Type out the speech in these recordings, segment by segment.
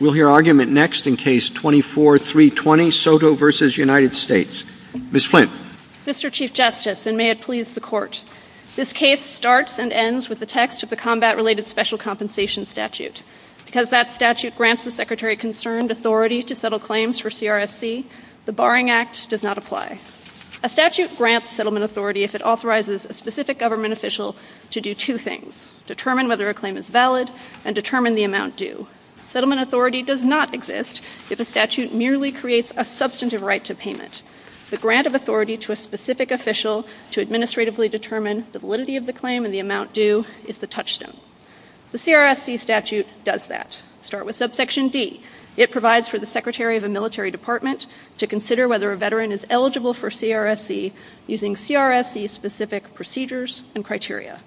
We'll hear argument next in Case 24-320, Soto v. United States. Ms. Flint. Mr. Chief Justice, and may it please the Court, this case starts and ends with the text of the combat-related special compensation statute. Because that statute grants the Secretary concerned authority to settle claims for CRSC, the Barring Act does not apply. A statute grants settlement authority if it authorizes a specific government official to do two things, determine whether a claim is valid, and determine the amount due. Settlement authority does not exist if a statute merely creates a substantive right to payment. The grant of authority to a specific official to administratively determine the validity of the claim and the amount due is the touchstone. The CRSC statute does that. Start with subsection D. It provides for the Secretary of a military department to consider whether a veteran is eligible for CRSC using CRSC-specific procedures and criteria.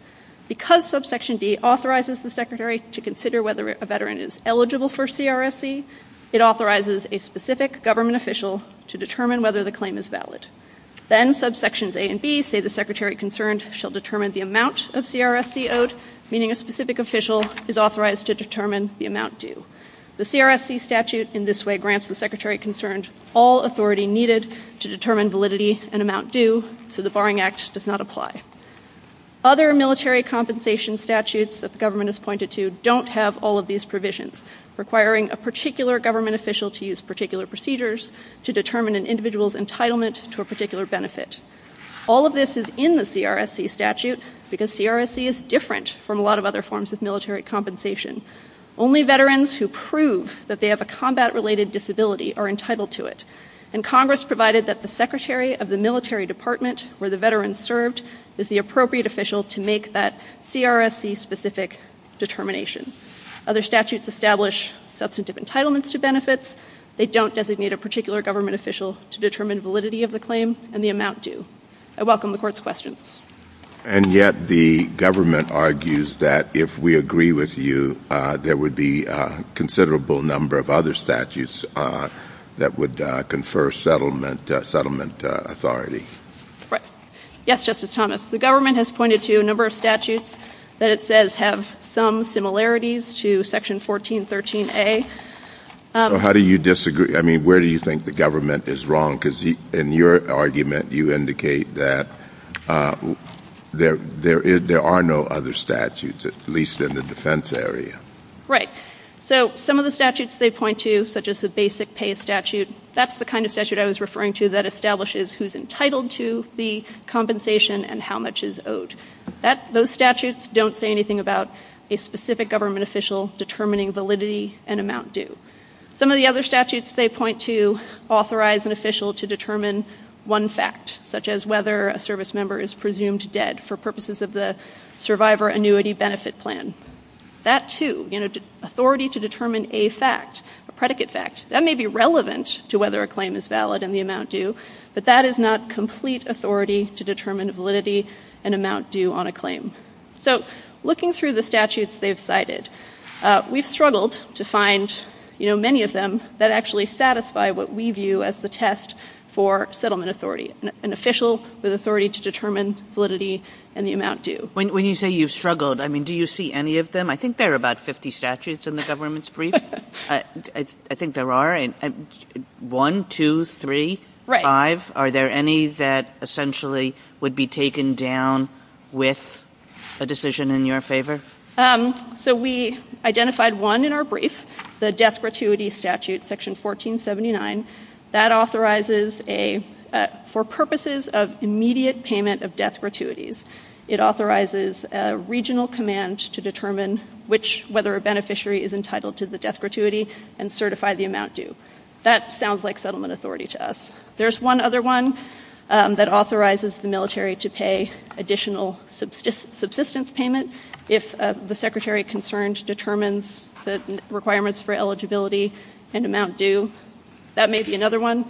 Because subsection D authorizes the Secretary to consider whether a veteran is eligible for CRSC, it authorizes a specific government official to determine whether the claim is valid. Then subsections A and B say the Secretary concerned shall determine the amount of CRSC owed, meaning a specific official is authorized to determine the amount due. The CRSC statute in this way grants the Secretary concerned all authority needed to determine validity and amount due, so the Barring Act does not apply. Other military compensation statutes that the government has pointed to don't have all of these provisions, requiring a particular government official to use particular procedures to determine an individual's entitlement to a particular benefit. All of this is in the CRSC statute because CRSC is different from a lot of other forms of military compensation. Only veterans who prove that they have a combat-related disability are entitled to it, and Congress provided that the Secretary of the military department where the veteran served is the appropriate official to make that CRSC-specific determination. Other statutes establish substantive entitlements to benefits. They don't designate a particular government official to determine validity of the claim and the amount due. I welcome the Court's questions. And yet the government argues that if we agree with you, there would be a considerable number of other statutes that would confer settlement authority. Right. Yes, Justice Thomas. The government has pointed to a number of statutes that it says have some similarities to Section 1413A. So how do you disagree? I mean, where do you think the government is wrong? Because in your argument, you indicate that there are no other statutes, at least in the defense area. Right. So some of the statutes they point to, such as the basic pay statute, that's the kind of statute I was referring to that establishes who's entitled to the compensation and how much is owed. Those statutes don't say anything about a specific government official determining validity and amount due. Some of the other statutes they point to authorize an official to determine one fact, such as whether a service That too, you know, authority to determine a fact, a predicate fact, that may be relevant to whether a claim is valid and the amount due, but that is not complete authority to determine validity and amount due on a claim. So looking through the statutes they've cited, we've struggled to find, you know, many of them that actually satisfy what we view as the test for settlement authority, an official with authority to determine validity and the amount due. When you say you've struggled, I mean, do you see any of them? I think there are about 50 statutes in the government's brief. I think there are one, two, three, five. Are there any that essentially would be taken down with a decision in your favor? So we identified one in our brief, the death gratuity statute, section 1479. That authorizes a, for purposes of immediate payment of death gratuities, it authorizes a regional command to determine which, whether a beneficiary is entitled to the death gratuity and certify the amount due. That sounds like settlement authority to us. There's one other one that authorizes the military to pay additional subsistence payment if the secretary of concerns determines the requirements for eligibility and amount due. That may be another one.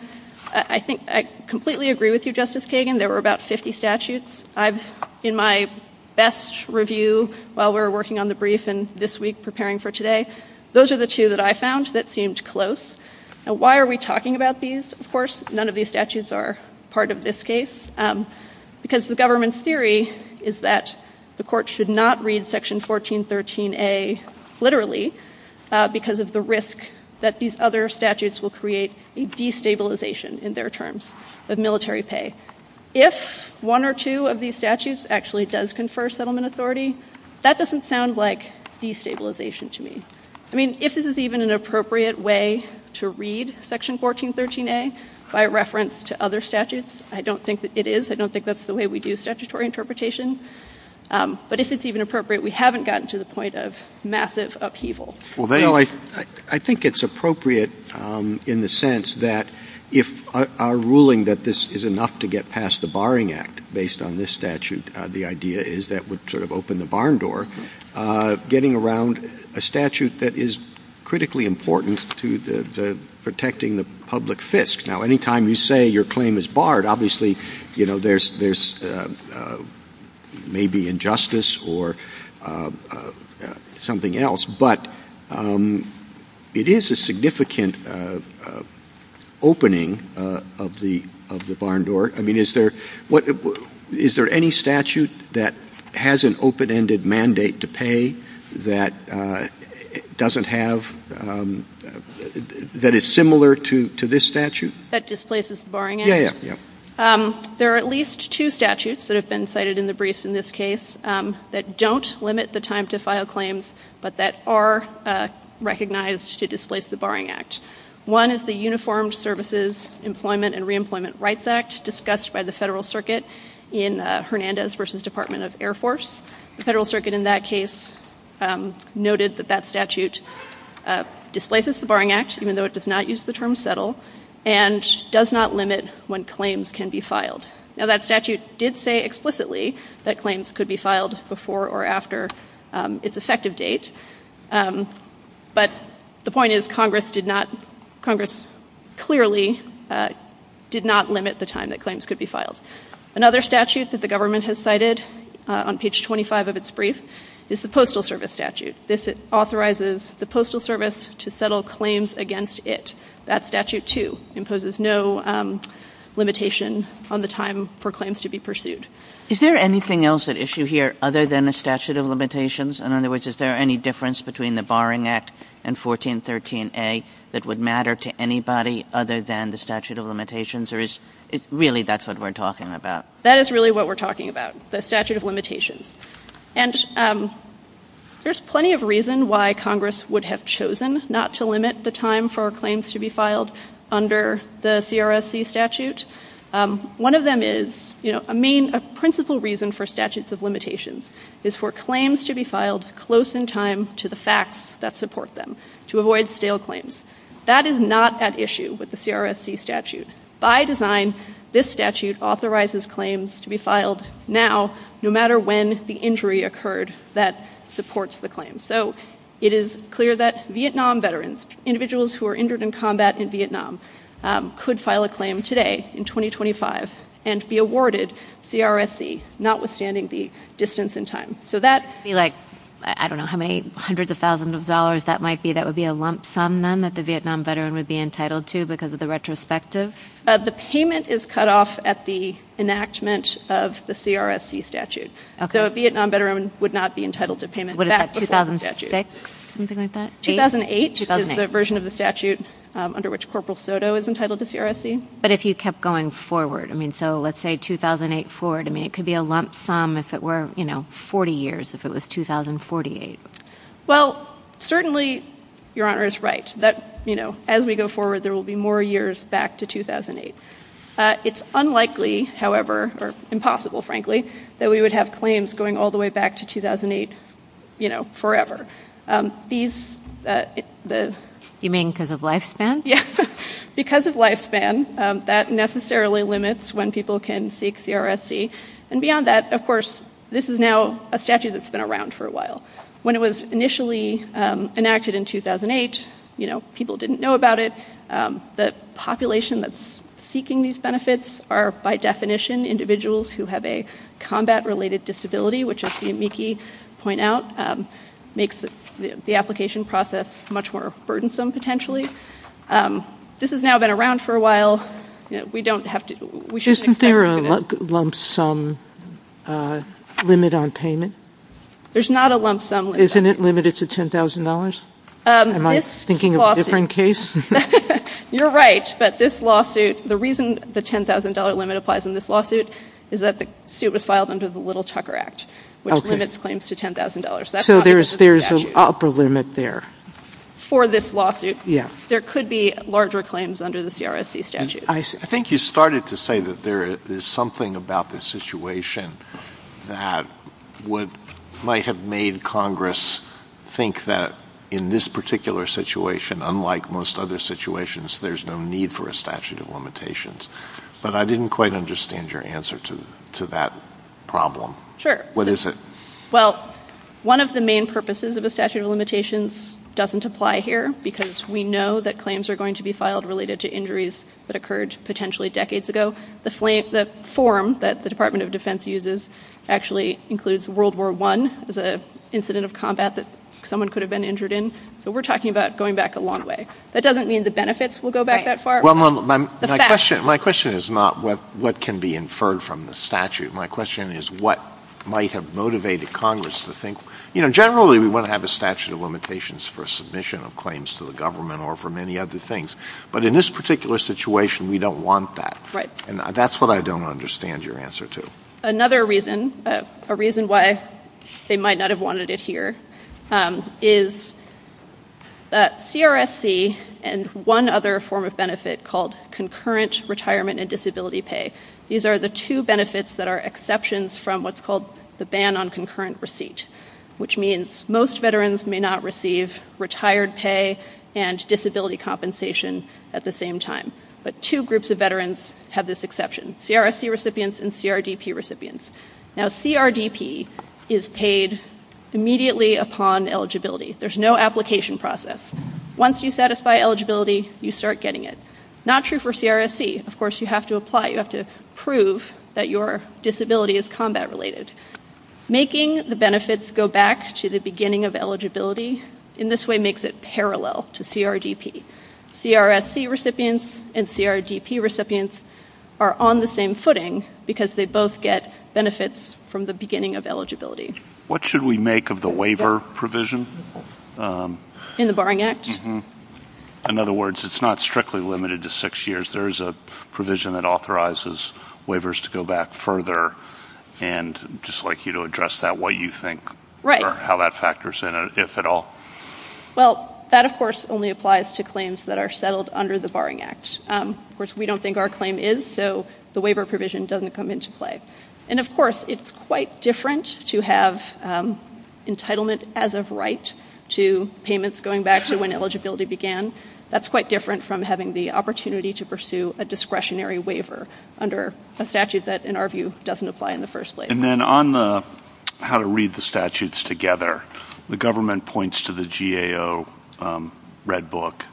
I think I completely agree with you, Justice Kagan. There were about 50 statutes. I've, in my best review while we were working on the brief and this week preparing for today, those are the two that I found that seemed close. Why are we talking about these? Of course, none of these statutes are part of this case, because the government's theory is that the court should not read section 1413A literally because of the risk that these other statutes will create a destabilization in their terms of military pay. If one or two of these statutes actually does confer settlement authority, that doesn't sound like destabilization to me. I mean, if this is even an appropriate way to read section 1413A by reference to other statutes, I don't think that it is. I don't think that's the way we do statutory interpretation. But if it's even appropriate, we haven't gotten to the point of massive upheaval. Well, I think it's appropriate in the sense that if our ruling that this is enough to get past the barring act based on this statute, the idea is that would sort of open the barn door, getting around a statute that is critically important to protecting the public fisc. Now, anytime you say your claim is barred, obviously, you know, there's maybe injustice or something else. But it is a significant opening of the barn door. I mean, is there any statute that has an open-ended mandate to pay that doesn't have — that is similar to this statute? That displaces the barring act? Yeah, yeah. There are at least two statutes that have been cited in the briefs in this case that don't limit the time to file claims, but that are recognized to displace the barring act. One is the Uniformed Services Employment and Reemployment Rights Act discussed by the Federal Circuit in Hernandez v. Department of Air Force. The Federal Circuit in that case noted that that statute displaces the barring act, even though it does not use the term settle, and does not limit when claims can be filed. Now, that statute did say explicitly that claims could be filed before or after its effective date, but the point is Congress did not — Congress clearly did not limit the time that claims could be filed. Another statute that the government has cited on page 25 of its brief is the Postal Service Statute. This authorizes the Postal Service to settle claims against it. That statute, too, imposes no limitation on the time for claims to be pursued. Is there anything else at issue here other than a statute of limitations? In other words, is there any difference between the barring act and 1413a that would matter to anybody other than the statute of limitations, or is — really, that's what we're talking about? That is really what we're talking about, the statute of limitations. And there's plenty of why Congress would have chosen not to limit the time for claims to be filed under the CRSC statute. One of them is — you know, a main — a principal reason for statutes of limitations is for claims to be filed close in time to the facts that support them, to avoid stale claims. That is not at issue with the CRSC statute. By design, this statute authorizes claims to be filed close in time. It is clear that Vietnam veterans, individuals who are injured in combat in Vietnam, could file a claim today, in 2025, and be awarded CRSC, notwithstanding the distance in time. So that — It would be like, I don't know how many hundreds of thousands of dollars that might be. That would be a lump sum, then, that the Vietnam veteran would be entitled to because of the retrospective? The payment is cut off at the enactment of the CRSC statute. So a Vietnam veteran would not be entitled to payment back before the statute. What is that, 2006, something like that? 2008 is the version of the statute under which Corporal Soto is entitled to CRSC. But if you kept going forward, I mean, so let's say 2008 forward, I mean, it could be a lump sum if it were, you know, 40 years, if it was 2048. Well, certainly, Your Honor is right that, you know, as we go forward, there will be more years back to 2008. It's unlikely, however — or impossible, frankly — that we would have claims going all the way back to 2008, you know, forever. These — You mean because of lifespan? Yeah. Because of lifespan, that necessarily limits when people can seek CRSC. And beyond that, of course, this is now a statute that's been around for a while. When it was initially enacted in 2008, you know, people didn't know about it. The population that's seeking these benefits are, by definition, individuals who have a combat-related disability, which, as you, Miki, point out, makes the application process much more burdensome, potentially. This has now been around for a while. We don't have to — we shouldn't expect — Isn't there a lump sum limit on payment? There's not a lump sum limit. Isn't it limited to $10,000? Am I thinking of a different case? You're right. But this lawsuit — the reason the $10,000 limit applies in this lawsuit is that the suit was filed under the Little-Tucker Act, which limits claims to $10,000. So there's an upper limit there. For this lawsuit. Yeah. There could be larger claims under the CRSC statute. I think you started to say that there is something about this situation that might have made Congress think that in this particular situation, unlike most other situations, there's no need for a statute of limitations. But I didn't quite understand your answer to that problem. Sure. What is it? Well, one of the main purposes of a statute of limitations doesn't apply here, because we know that claims are going to be filed related to injuries that occurred potentially decades ago. The form that the Department of Defense uses actually includes World War I as an incident of combat that someone could have been injured in. So we're talking about going back a long way. That doesn't mean the benefits will go back that far. My question is not what can be inferred from the statute. My question is what might have motivated Congress to think — you know, generally we want to have a statute of limitations for submission of claims to the government or for many other things. But in this particular situation, we don't want that. Right. That's what I don't understand your answer to. Another reason, a reason why they might not have wanted it here, is CRSC and one other form of benefit called concurrent retirement and disability pay. These are the two benefits that are exceptions from what's called the ban on concurrent receipt, which means most veterans may not receive retired pay and disability compensation at the same time. But two groups of veterans have this exception, CRSC recipients and CRDP recipients. Now CRDP is paid immediately upon eligibility. There's no application process. Once you satisfy eligibility, you start getting it. Not true for CRSC. Of course, you have to apply. You have to prove that your disability is combat related. Making the benefits go back to the beginning of eligibility in this way makes it parallel to CRDP. CRSC recipients and CRDP recipients are on the same footing because they both get benefits from the beginning of eligibility. What should we make of the waiver provision? In the Barring Act? In other words, it's not strictly limited to six years. There is a provision that authorizes waivers to go back further. And I'd just like you to address that, what you think or how that factors in, if at all. Well, that of course only applies to claims that are settled under the Barring Act. Of course, we don't think our claim is, so the waiver provision doesn't come into play. And of course, it's quite different to have entitlement as of right to payments going back to when eligibility began. That's quite different from having the opportunity to pursue a discretionary waiver under a statute that, in our view, doesn't apply in the first place. On the how to read the statutes together, the government points to the GAO Red Book,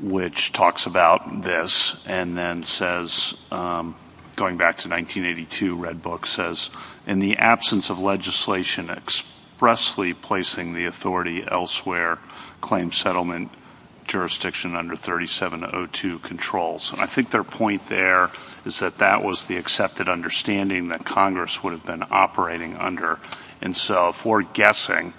which talks about this and then says, going back to 1982, Red Book says, in the absence of legislation expressly placing the authority elsewhere, claim settlement jurisdiction under 3702 controls. I think their point there is that that was the accepted understanding that Congress would have been operating under. And so if we're guessing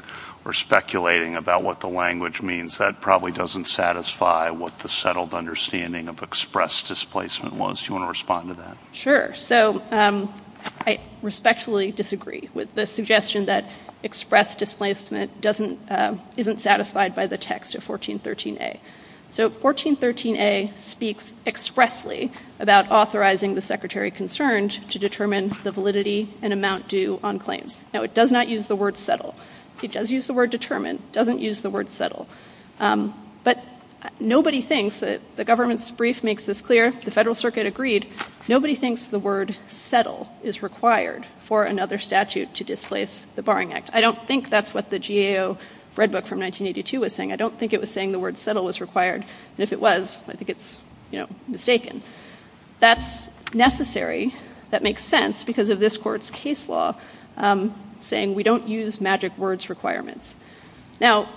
or speculating about what the language means, that probably doesn't satisfy what the settled understanding of express displacement was. Do you want to respond to that? So I respectfully disagree with the suggestion that express displacement isn't satisfied by the text of 1413A. So 1413A speaks expressly about authorizing the secretary concerned to determine the validity and amount due on claims. Now, it does not use the word settle. It does use the word determine. It doesn't use the word settle. But nobody thinks that the government's brief makes this clear. The Federal Circuit agreed. Nobody thinks the word settle is required for another statute to displace the Barring Act. I don't think that's what the GAO Red Book from 1982 was saying. I don't think it was saying the word settle was required. And if it was, I think it's, you know, mistaken. That's necessary. That makes sense because of this Court's case law saying we don't use magic words requirements. Now,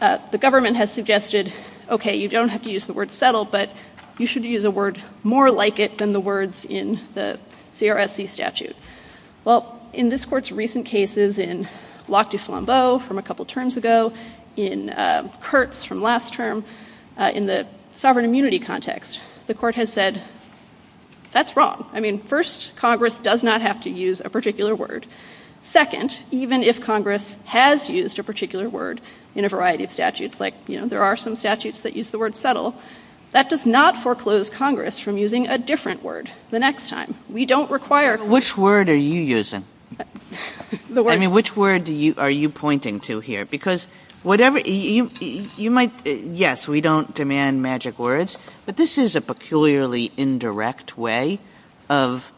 the government has suggested, okay, you don't have to use the word settle, but you should use a word more like it than the words in the CRSC statute. Well, in this Court's recent cases in Locke du Flambeau from a couple terms ago, in Kurtz from last term, in the sovereign immunity context, the Court has said, that's wrong. I mean, first, Congress does not have to use a particular word. Second, even if Congress has used a particular word in a variety of statutes, like, you know, there are some statutes that use the word settle, that does not foreclose Congress from using a different word the next time. We don't require. Kagan. Which word are you using? I mean, which word are you pointing to here? Because whatever, you might, yes, we don't demand magic words. But this is a peculiarly indirect way of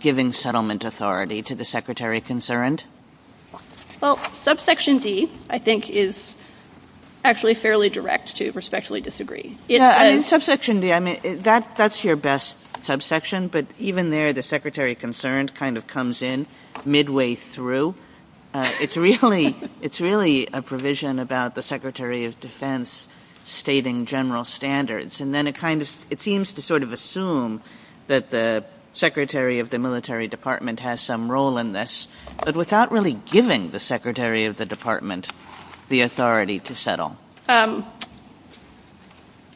giving settlement authority to the Secretary Concerned. Well, subsection D, I think, is actually fairly direct to respectfully disagree. Yeah, I mean, subsection D, I mean, that's your best subsection. But even there, the Secretary Concerned kind of comes in midway through. It's really a provision about the Secretary of Defense stating general standards. And then it seems to sort of assume that the Secretary of the Military Department has some role in this, but without really giving the Secretary of the Department the authority to settle.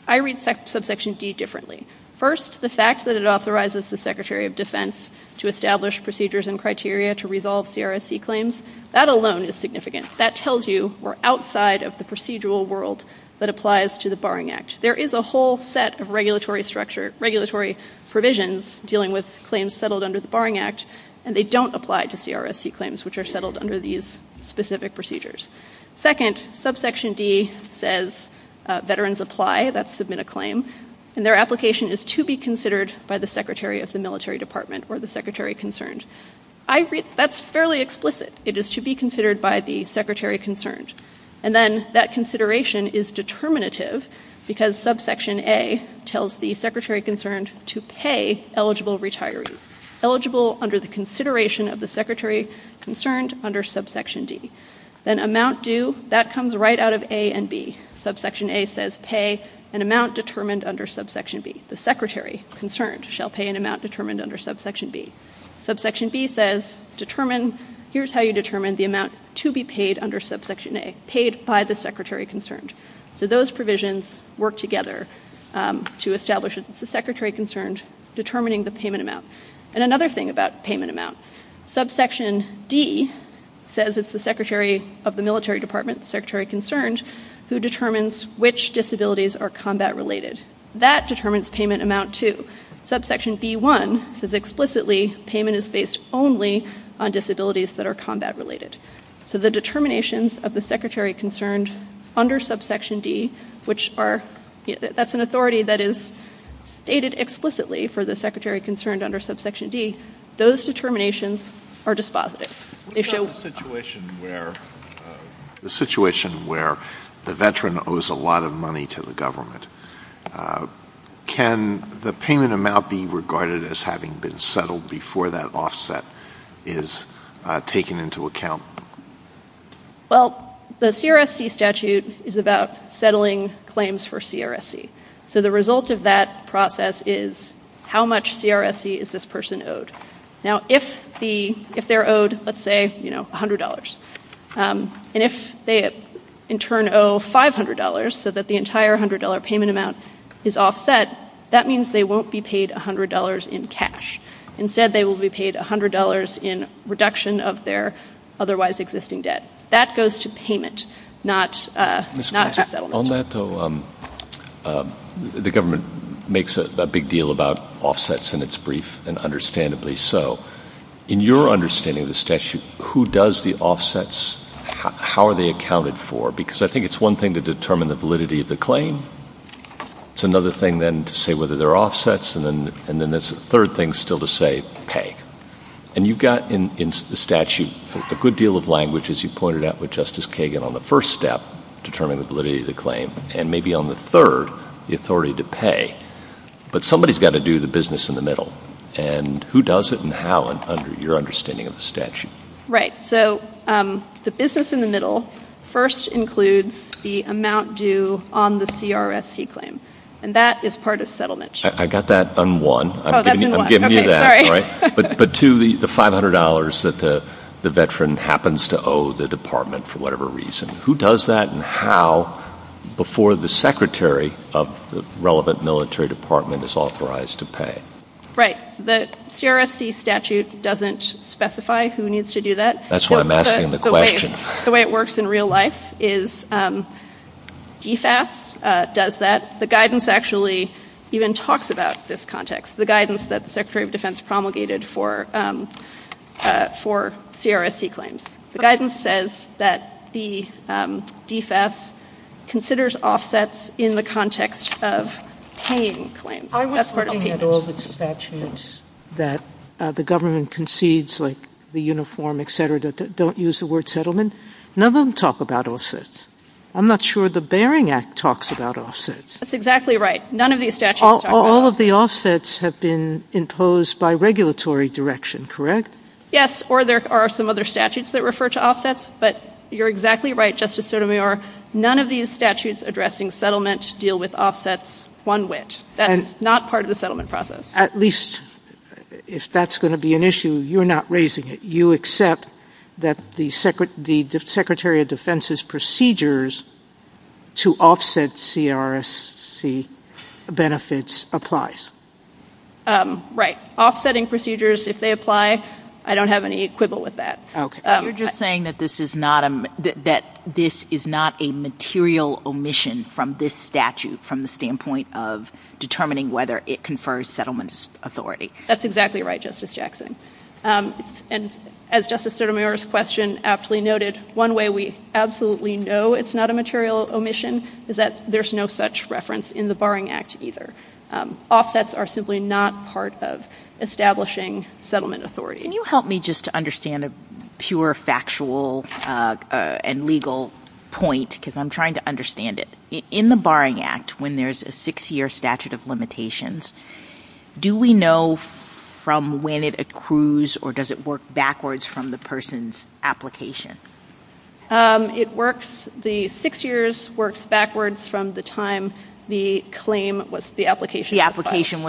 I read subsection D differently. First, the fact that it authorizes the Secretary of Defense to establish procedures and criteria to resolve CRSC claims, that alone is significant. That tells you we're outside of the procedural world that applies to the Barring Act. There is a whole set of regulatory structure, regulatory provisions dealing with claims settled under the Barring Act, and they don't apply to CRSC claims which are settled under these specific procedures. Second, subsection D says veterans apply, that's submit a claim, and their application is to be considered by the Secretary of the Military Department or the Secretary Concerned. That's fairly explicit. It is to be considered by the Secretary Concerned. And then that consideration is determinative because subsection A tells the Secretary Concerned to pay eligible retirees, eligible under the consideration of the Secretary Concerned under subsection D. Then amount due, that comes right out of A and B. Subsection A says pay an amount determined under subsection B. The Secretary Concerned shall pay an amount determined under subsection B. Subsection B says determine, here's how you determine the amount to be paid under subsection A, paid by the Secretary Concerned. So those provisions work together to establish it's the Secretary Concerned determining the payment amount. And another thing about payment amount, subsection D says it's the Secretary of the Military Department, the Secretary Concerned, who determines which disabilities are combat related. That determines payment amount too. Subsection B1 says explicitly payment is based only on disabilities that are combat related. So the determinations of the Secretary Concerned under subsection D, which are, that's an authority that is stated explicitly for the Secretary Concerned under subsection D, those determinations are dispositive. They show- What about the situation where, the situation where the veteran owes a lot of money to the government? Can the payment amount be regarded as having been settled before that offset is taken into account? Well, the CRSC statute is about settling claims for CRSC. So the result of that process is how much CRSC is this person owed? Now, if the, if they're owed, let's say, you know, $100, and if they in turn owe $500 so that the entire $100 payment amount is offset, that means they won't be paid $100 in cash. Instead, they will be paid $100 in reduction of their otherwise existing debt. That goes to payment, not to settlement. On that though, the government makes a big deal about offsets in its brief, and understandably so. In your understanding of the statute, who does the offsets, how are they accounted for? Because I think it's one thing to determine the validity of the claim. It's another thing then to say whether they're offsets. And then, and then there's a third thing still to say, pay. And you've got in the statute a good deal of language, as you pointed out with Justice Kagan, on the first step, determining the validity of the claim. And maybe on the third, the authority to pay. But somebody's got to do the business in the middle. And who does it and how, under your understanding of the statute? Right. So, the business in the middle first includes the amount due on the CRSC claim. And that is part of settlement. I got that on one. Oh, that's on one. I'm giving you that, all right? But two, the $500 that the veteran happens to owe the department for whatever reason, who does that and how before the secretary of the relevant military department is authorized to pay? Right. The CRSC statute doesn't specify who needs to do that. That's what I'm asking the question. The way it works in real life is DFAS does that. The guidance actually even talks about this context. The guidance that the Secretary of Defense promulgated for CRSC claims. The guidance says that the DFAS considers offsets in the context of paying claims. I was looking at all the statutes that the government concedes, like the uniform, et cetera, that don't use the word settlement. None of them talk about offsets. I'm not sure the Bering Act talks about offsets. That's exactly right. None of these statutes talk about offsets. All of the offsets have been imposed by regulatory direction, correct? Yes. Or there are some other statutes that refer to offsets. But you're exactly right, Justice Sotomayor. None of these statutes addressing settlement deal with offsets one whit. That's not part of the settlement process. At least, if that's going to be an issue, you're not raising it. You accept that the Secretary of Defense's procedures to offset CRSC benefits applies. Right. Offsetting procedures, if they apply, I don't have any quibble with that. OK. You're just saying that this is not a material omission from this statute, from the standpoint of determining whether it confers settlement authority. That's exactly right, Justice Jackson. And as Justice Sotomayor's question aptly noted, one way we absolutely know it's not a material omission is that there's no such reference in the Bering Act either. Offsets are simply not part of establishing settlement authority. Can you help me just to understand a pure factual and legal point? Because I'm trying to understand it. In the Bering Act, when there's a six-year statute of limitations, do we know from when it accrues or does it work backwards from the person's application? It works. The six years works backwards from the time the application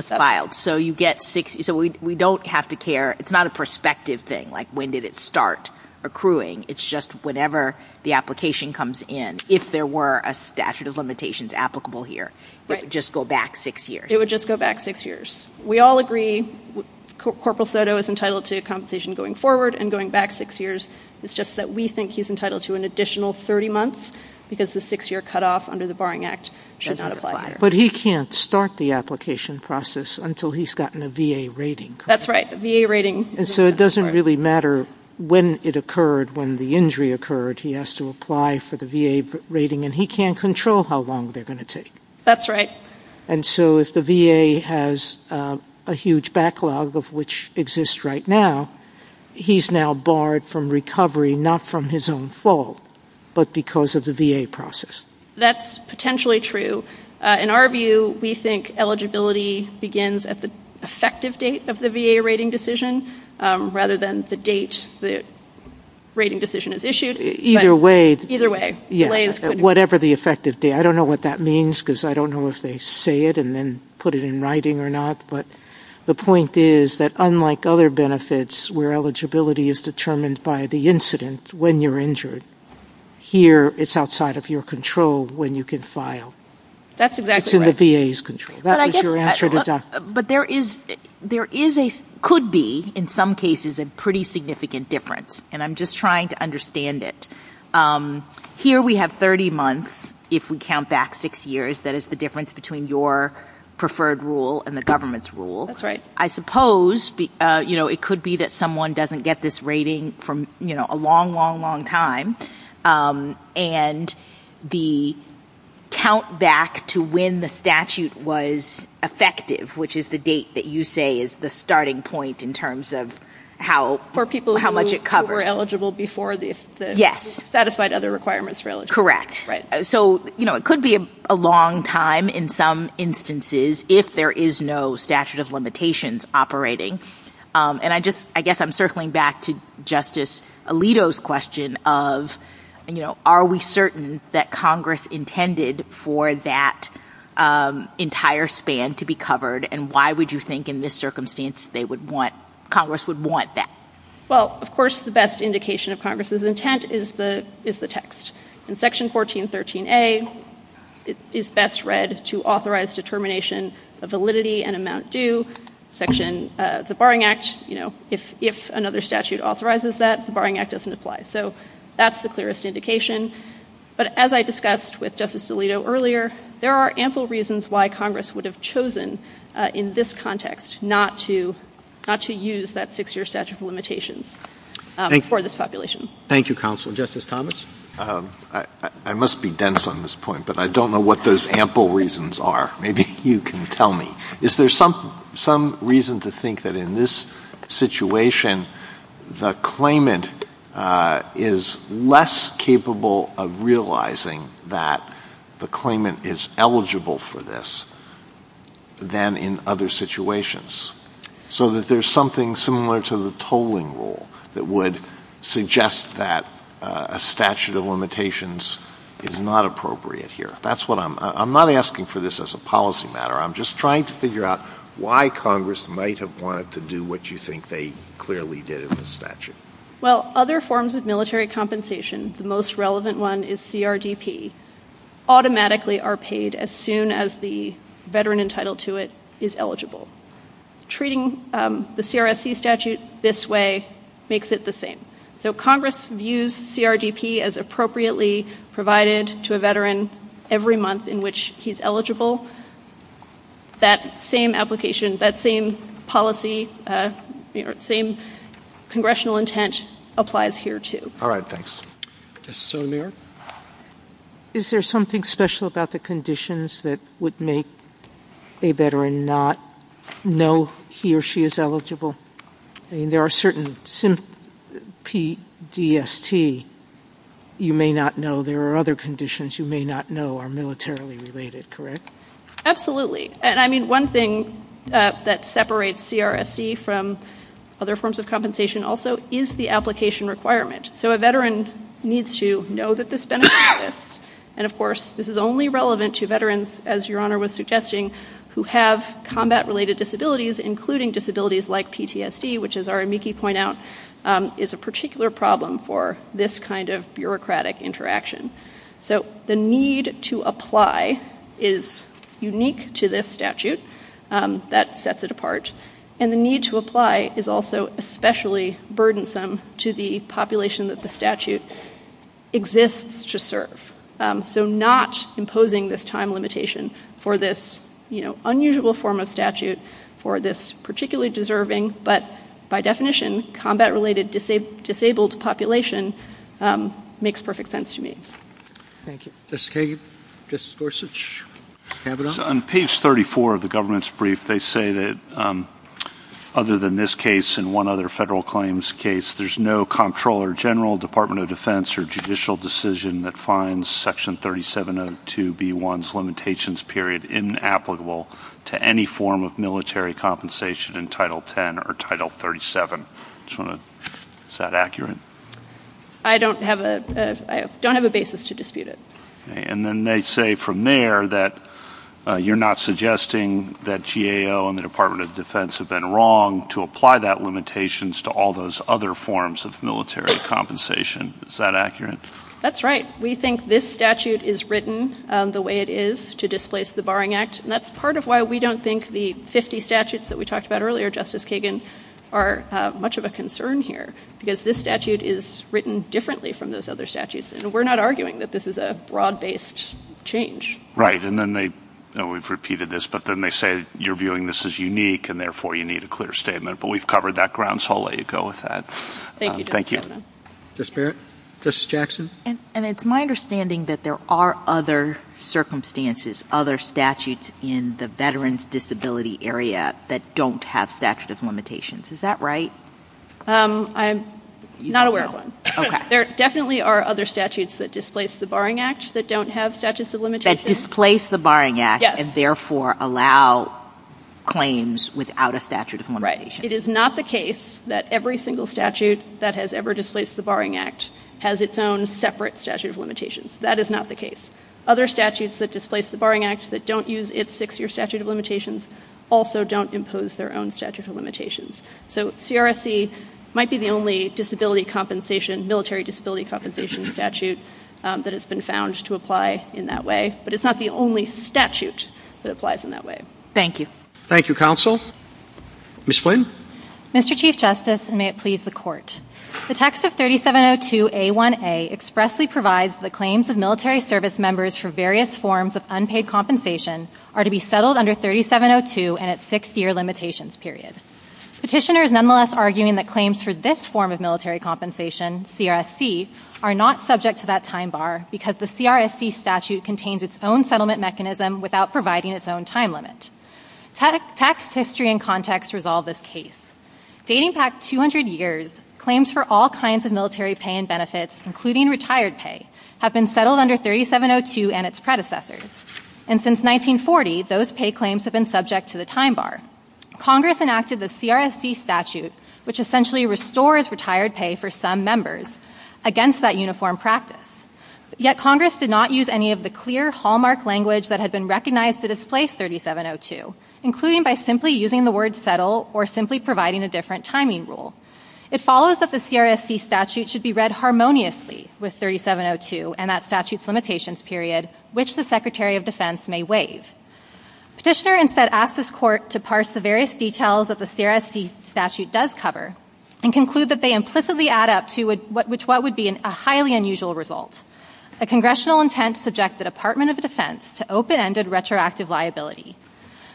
was filed. So you get six. So we don't have to care. It's not a prospective thing, like when did it start accruing. It's just whenever the application comes in. If there were a statute of limitations applicable here, it would just go back six years. It would just go back six years. We all agree Corporal Soto is entitled to compensation going forward and going back six years. It's just that we think he's entitled to an additional 30 months because the six-year cutoff under the Bering Act should not apply. But he can't start the application process until he's gotten a VA rating. That's right, a VA rating. So it doesn't really matter when it occurred, when the injury occurred. He has to apply for the VA rating and he can't control how long they're going to take. That's right. And so if the VA has a huge backlog of which exists right now, he's now barred from recovery, not from his own fault, but because of the VA process. That's potentially true. In our view, we think eligibility begins at the effective date of the VA rating decision rather than the date the rating decision is issued. Either way. Either way. Whatever the effective date. I don't know what that means because I don't know if they say it and then put it in writing or not. But the point is that unlike other benefits where eligibility is determined by the incident when you're injured, here it's outside of your control when you can file. That's exactly right. It's in the VA's control. But there is a could be in some cases a pretty significant difference. And I'm just trying to understand it. Here we have 30 months if we count back six years. That is the difference between your preferred rule and the government's rule. That's right. I suppose it could be that someone doesn't get this rating from a long, long, long time. And the count back to when the statute was effective, which is the date that you say is the starting point in terms of how much it covers. For people who were eligible before the satisfied other requirements for eligibility. Correct. So it could be a long time in some instances if there is no statute of limitations operating. And I guess I'm circling back to Justice Alito's question of are we certain that Congress intended for that entire span to be covered? And why would you think in this circumstance Congress would want that? Well, of course, the best indication of Congress's intent is the text. In Section 1413A, it is best read to authorize determination of validity and amount due. Section, the Barring Act, if another statute authorizes that, the Barring Act doesn't apply. So that's the clearest indication. But as I discussed with Justice Alito earlier, there are ample reasons why Congress would have chosen in this context not to use that six-year statute of limitations for this population. Thank you, Counsel. Justice Thomas? I must be dense on this point, but I don't know what those ample reasons are. Maybe you can tell me. Is there some reason to think that in this situation, the claimant is less capable of realizing that the claimant is eligible for this than in other situations? So that there's something similar to the tolling rule that would suggest that a statute of limitations is not appropriate here. That's what I'm, I'm not asking for this as a policy matter. I'm just trying to figure out why Congress might have wanted to do what you think they clearly did in the statute. Well, other forms of military compensation, the most relevant one is CRDP, automatically are paid as soon as the veteran entitled to it is eligible. Treating the CRSC statute this way makes it the same. So Congress views CRDP as appropriately provided to a veteran every month in which he's eligible. That same application, that same policy, same congressional intent applies here too. All right. Thanks. Is there something special about the conditions that would make a veteran not know he or she is eligible? I mean, there are certain P-D-S-T you may not know. There are other conditions you may not know are militarily related, correct? Absolutely. And I mean, one thing that separates CRSC from other forms of compensation also is the application requirement. So a veteran needs to know that this benefits them. And of course, this is only relevant to veterans, as Your Honor was suggesting, who have combat related disabilities, including disabilities like PTSD, which as our amici point out, is a particular problem for this kind of bureaucratic interaction. So the need to apply is unique to this statute. That sets it apart. And the need to apply is also especially burdensome to the population that the statute exists to serve. So not imposing this time limitation for this unusual form of statute, for this particularly deserving, but by definition, combat related disabled population makes perfect sense to me. Thank you. Justice Kagan? Justice Gorsuch? On page 34 of the government's brief, they say that other than this case and one other federal claims case, there's no comptroller general, Department of Defense, or judicial decision that finds section 3702B1's limitations period inapplicable to any form of military compensation in Title X or Title 37. Is that accurate? I don't have a basis to dispute it. And then they say from there that you're not suggesting that GAO and the Department of Defense have been wrong to apply that limitations to all those other forms of military compensation. Is that accurate? That's right. We think this statute is written the way it is to displace the Barring Act. And that's part of why we don't think the 50 statutes that we talked about earlier, Justice Kagan, are much of a concern here, because this statute is written differently from those other statutes. And we're not arguing that this is a broad-based change. Right. And then they, we've repeated this, but then they say you're viewing this as unique, and therefore you need a clear statement. But we've covered that ground, so I'll let you go with that. Thank you, Justice Kagan. Thank you. Justice Barrett? Justice Jackson? And it's my understanding that there are other circumstances, other statutes in the Veterans Disability Area that don't have statute of limitations. Is that right? I'm not aware of one. There definitely are other statutes that displace the Barring Act that don't have statute of limitations. That displace the Barring Act and therefore allow claims without a statute of limitations. Right. It is not the case that every single statute that has ever displaced the Barring Act has its own separate statute of limitations. That is not the case. Other statutes that displace the Barring Act that don't use its six-year statute of limitations also don't impose their own statute of limitations. So CRSC might be the only disability compensation, military disability compensation statute that has been found to apply in that way. But it's not the only statute that applies in that way. Thank you. Thank you, Counsel. Ms. Flynn? Mr. Chief Justice, and may it please the Court. The text of 3702A1A expressly provides the claims of military service members for various forms of unpaid compensation are to be settled under 3702 and its six-year limitations period. Petitioner is nonetheless arguing that claims for this form of military compensation, CRSC, are not subject to that time bar because the CRSC statute contains its own settlement mechanism without providing its own time limit. Text, history, and context resolve this case. Dating back 200 years, claims for all kinds of military pay and benefits, including retired pay, have been settled under 3702 and its predecessors. And since 1940, those pay claims have been subject to the time bar. Congress enacted the CRSC statute, which essentially restores retired pay for some members, against that uniform practice. Yet Congress did not use any of the clear hallmark language that had been recognized to displace 3702, including by simply using the word settle or simply providing a different timing rule. It follows that the CRSC statute should be read harmoniously with 3702 and that statute's limitations period, which the Secretary of Defense may waive. Petitioner instead asked this Court to parse the various details that the CRSC statute does cover and conclude that they implicitly add up to what would be a highly unusual result, a congressional intent to subject the Department of Defense to open-ended retroactive liability.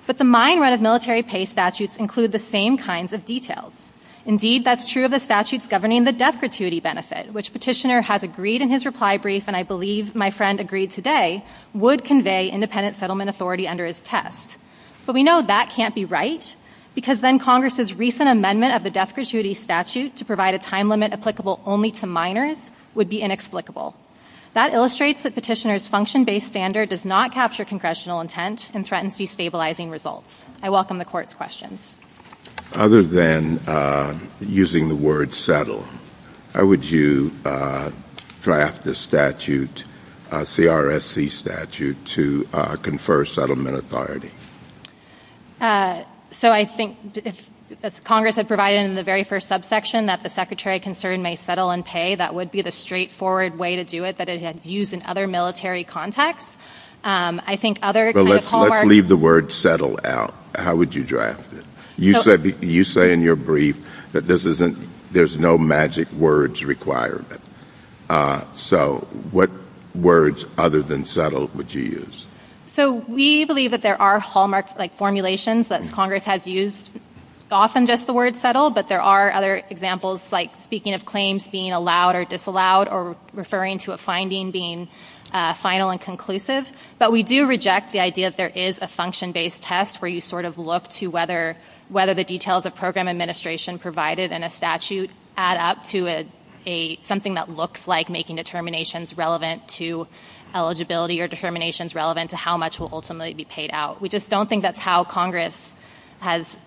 But the mine run of military pay statutes include the same kinds of details. Indeed, that's true of the statutes governing the death gratuity benefit, which Petitioner has agreed in his reply brief, and I believe my friend agreed today, would convey independent settlement authority under his test. But we know that can't be right because then Congress's recent amendment of the death gratuity statute to provide a time limit applicable only to minors would be inexplicable. That illustrates that Petitioner's function-based standard does not capture congressional intent and threatens destabilizing results. I welcome the Court's questions. JUSTICE KENNEDY Other than using the word settle, how would you draft the statute, CRSC statute, to confer settlement authority? HENDRICKS So I think if, as Congress had provided in the very first subsection, that the Secretary of Concern may settle and pay, that would be the straightforward way to do it that it had used in other military contexts. I think other kind of hallmarks— JUSTICE KENNEDY Let's leave the word settle out. How would you draft it? You say in your brief that there's no magic words requirement. So what words other than settle would you use? HENDRICKS So we believe that there are hallmark formulations that Congress has used, often just the word settle, but there are other examples, like speaking of claims being allowed or disallowed, or referring to a finding being final and conclusive. But we do reject the idea that there is a function-based test where you sort of look to whether the details of program administration provided in a statute add up to something that looks like making determinations relevant to eligibility or determinations relevant to how much will ultimately be paid out. We just don't think that's how Congress has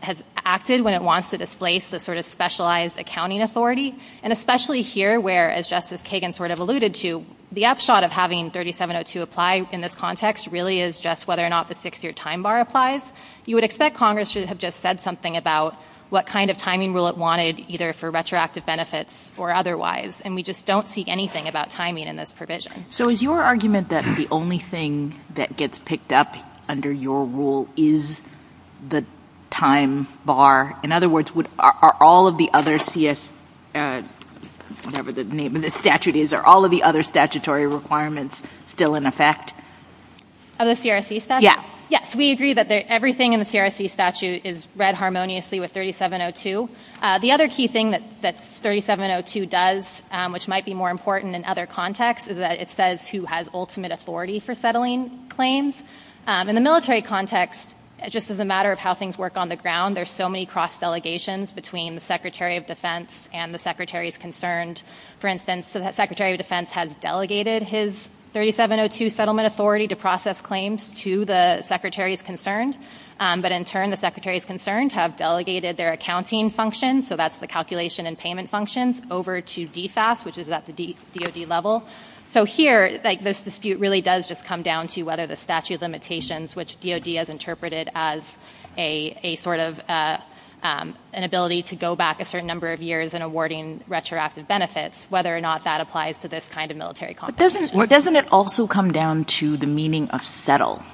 acted when it wants to displace the sort of specialized accounting authority. And especially here where, as Justice Kagan sort of alluded to, the upshot of having 3702 apply in this context really is just whether or not the six-year time bar applies. You would expect Congress to have just said something about what kind of timing rule it wanted, either for retroactive benefits or otherwise. And we just don't see anything about timing in this provision. JUSTICE SONIA SOTOMAYOR So is your argument that the only thing that gets picked up under your rule is the time bar? In other words, are all of the other CS, whatever the name of the statute is, are all of the other statutory requirements still in effect? MS. KAYESS Of the CRC statute? JUSTICE SONIA SOTOMAYOR Yeah. KAYESS Yes. We agree that everything in the CRC statute is read harmoniously with 3702. The other key thing that 3702 does, which might be more important in other contexts, is that it says who has ultimate authority for settling claims. In the military context, just as a matter of how things work on the ground, there's so many cross-delegations between the Secretary of Defense and the Secretaries Concerned. For instance, the Secretary of Defense has delegated his 3702 settlement authority to process claims to the Secretaries Concerned, but in turn, the Secretaries Concerned have delegated their accounting functions, so that's the calculation and payment functions, over to DFAS, which is at the DOD level. So here, this dispute really does just come down to whether the statute of limitations, which DOD has interpreted as a sort of an ability to go back a certain number of years in awarding retroactive benefits, whether or not that applies to this kind of military competition. JUSTICE SONIA SOTOMAYOR Doesn't it also come down to the meaning of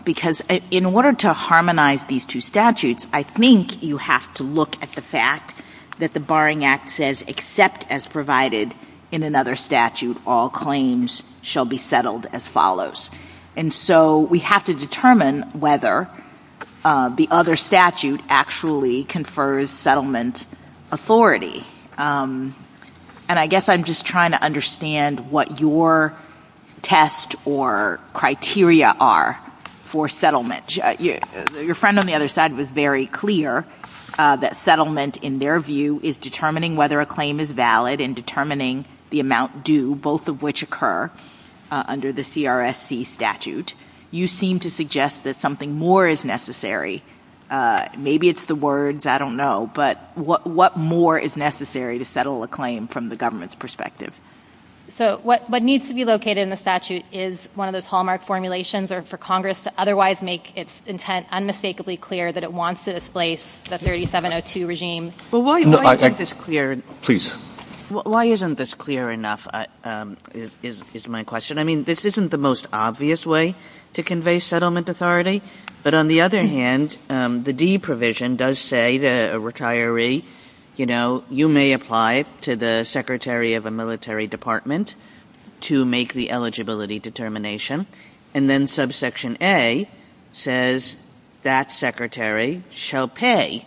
Because in order to harmonize these two statutes, I think you have to look at the fact that the Barring Act says, except as provided in another statute, all claims shall be settled as follows. And so we have to determine whether the other statute actually confers settlement authority. And I guess I'm just trying to understand what your test or criteria are for settlement. Your friend on the other side was very clear that settlement, in their view, is determining whether a claim is valid and determining the amount due, both of which occur under the GRSC statute. You seem to suggest that something more is necessary. Maybe it's the words. I don't know. But what more is necessary to settle a claim from the government's perspective? MS. RAHMAN So what needs to be located in the statute is one of those hallmark formulations or for Congress to otherwise make its intent unmistakably clear that it wants to displace the 3702 regime. JUSTICE SONIA SOTOMAYOR Well, why isn't this clear enough is my question. This isn't the most obvious way to convey settlement authority. But on the other hand, the D provision does say to a retiree, you know, you may apply to the secretary of a military department to make the eligibility determination. And then subsection A says that secretary shall pay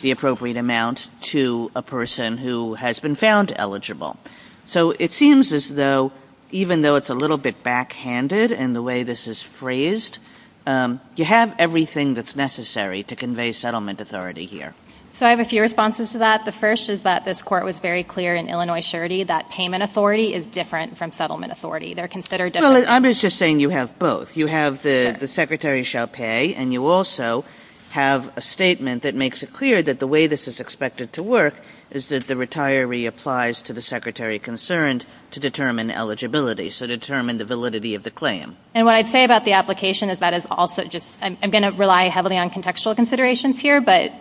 the appropriate amount to a person who has been found eligible. So it seems as though even though it's a little bit backhanded in the way this is phrased, you have everything that's necessary to convey settlement authority here. MS. RAHMAN So I have a few responses to that. The first is that this Court was very clear in Illinois surety that payment authority is different from settlement authority. They're considered different. JUSTICE SONIA SOTOMAYOR Well, I'm just saying you have both. You have the secretary shall pay, and you also have a statement that makes it clear that the way this is expected to work is that the retiree applies to the secretary concerned to determine eligibility, so determine the validity of the claim. MS. RAHMAN And what I'd say about the application is that is also just, I'm going to rely heavily on contextual considerations here, but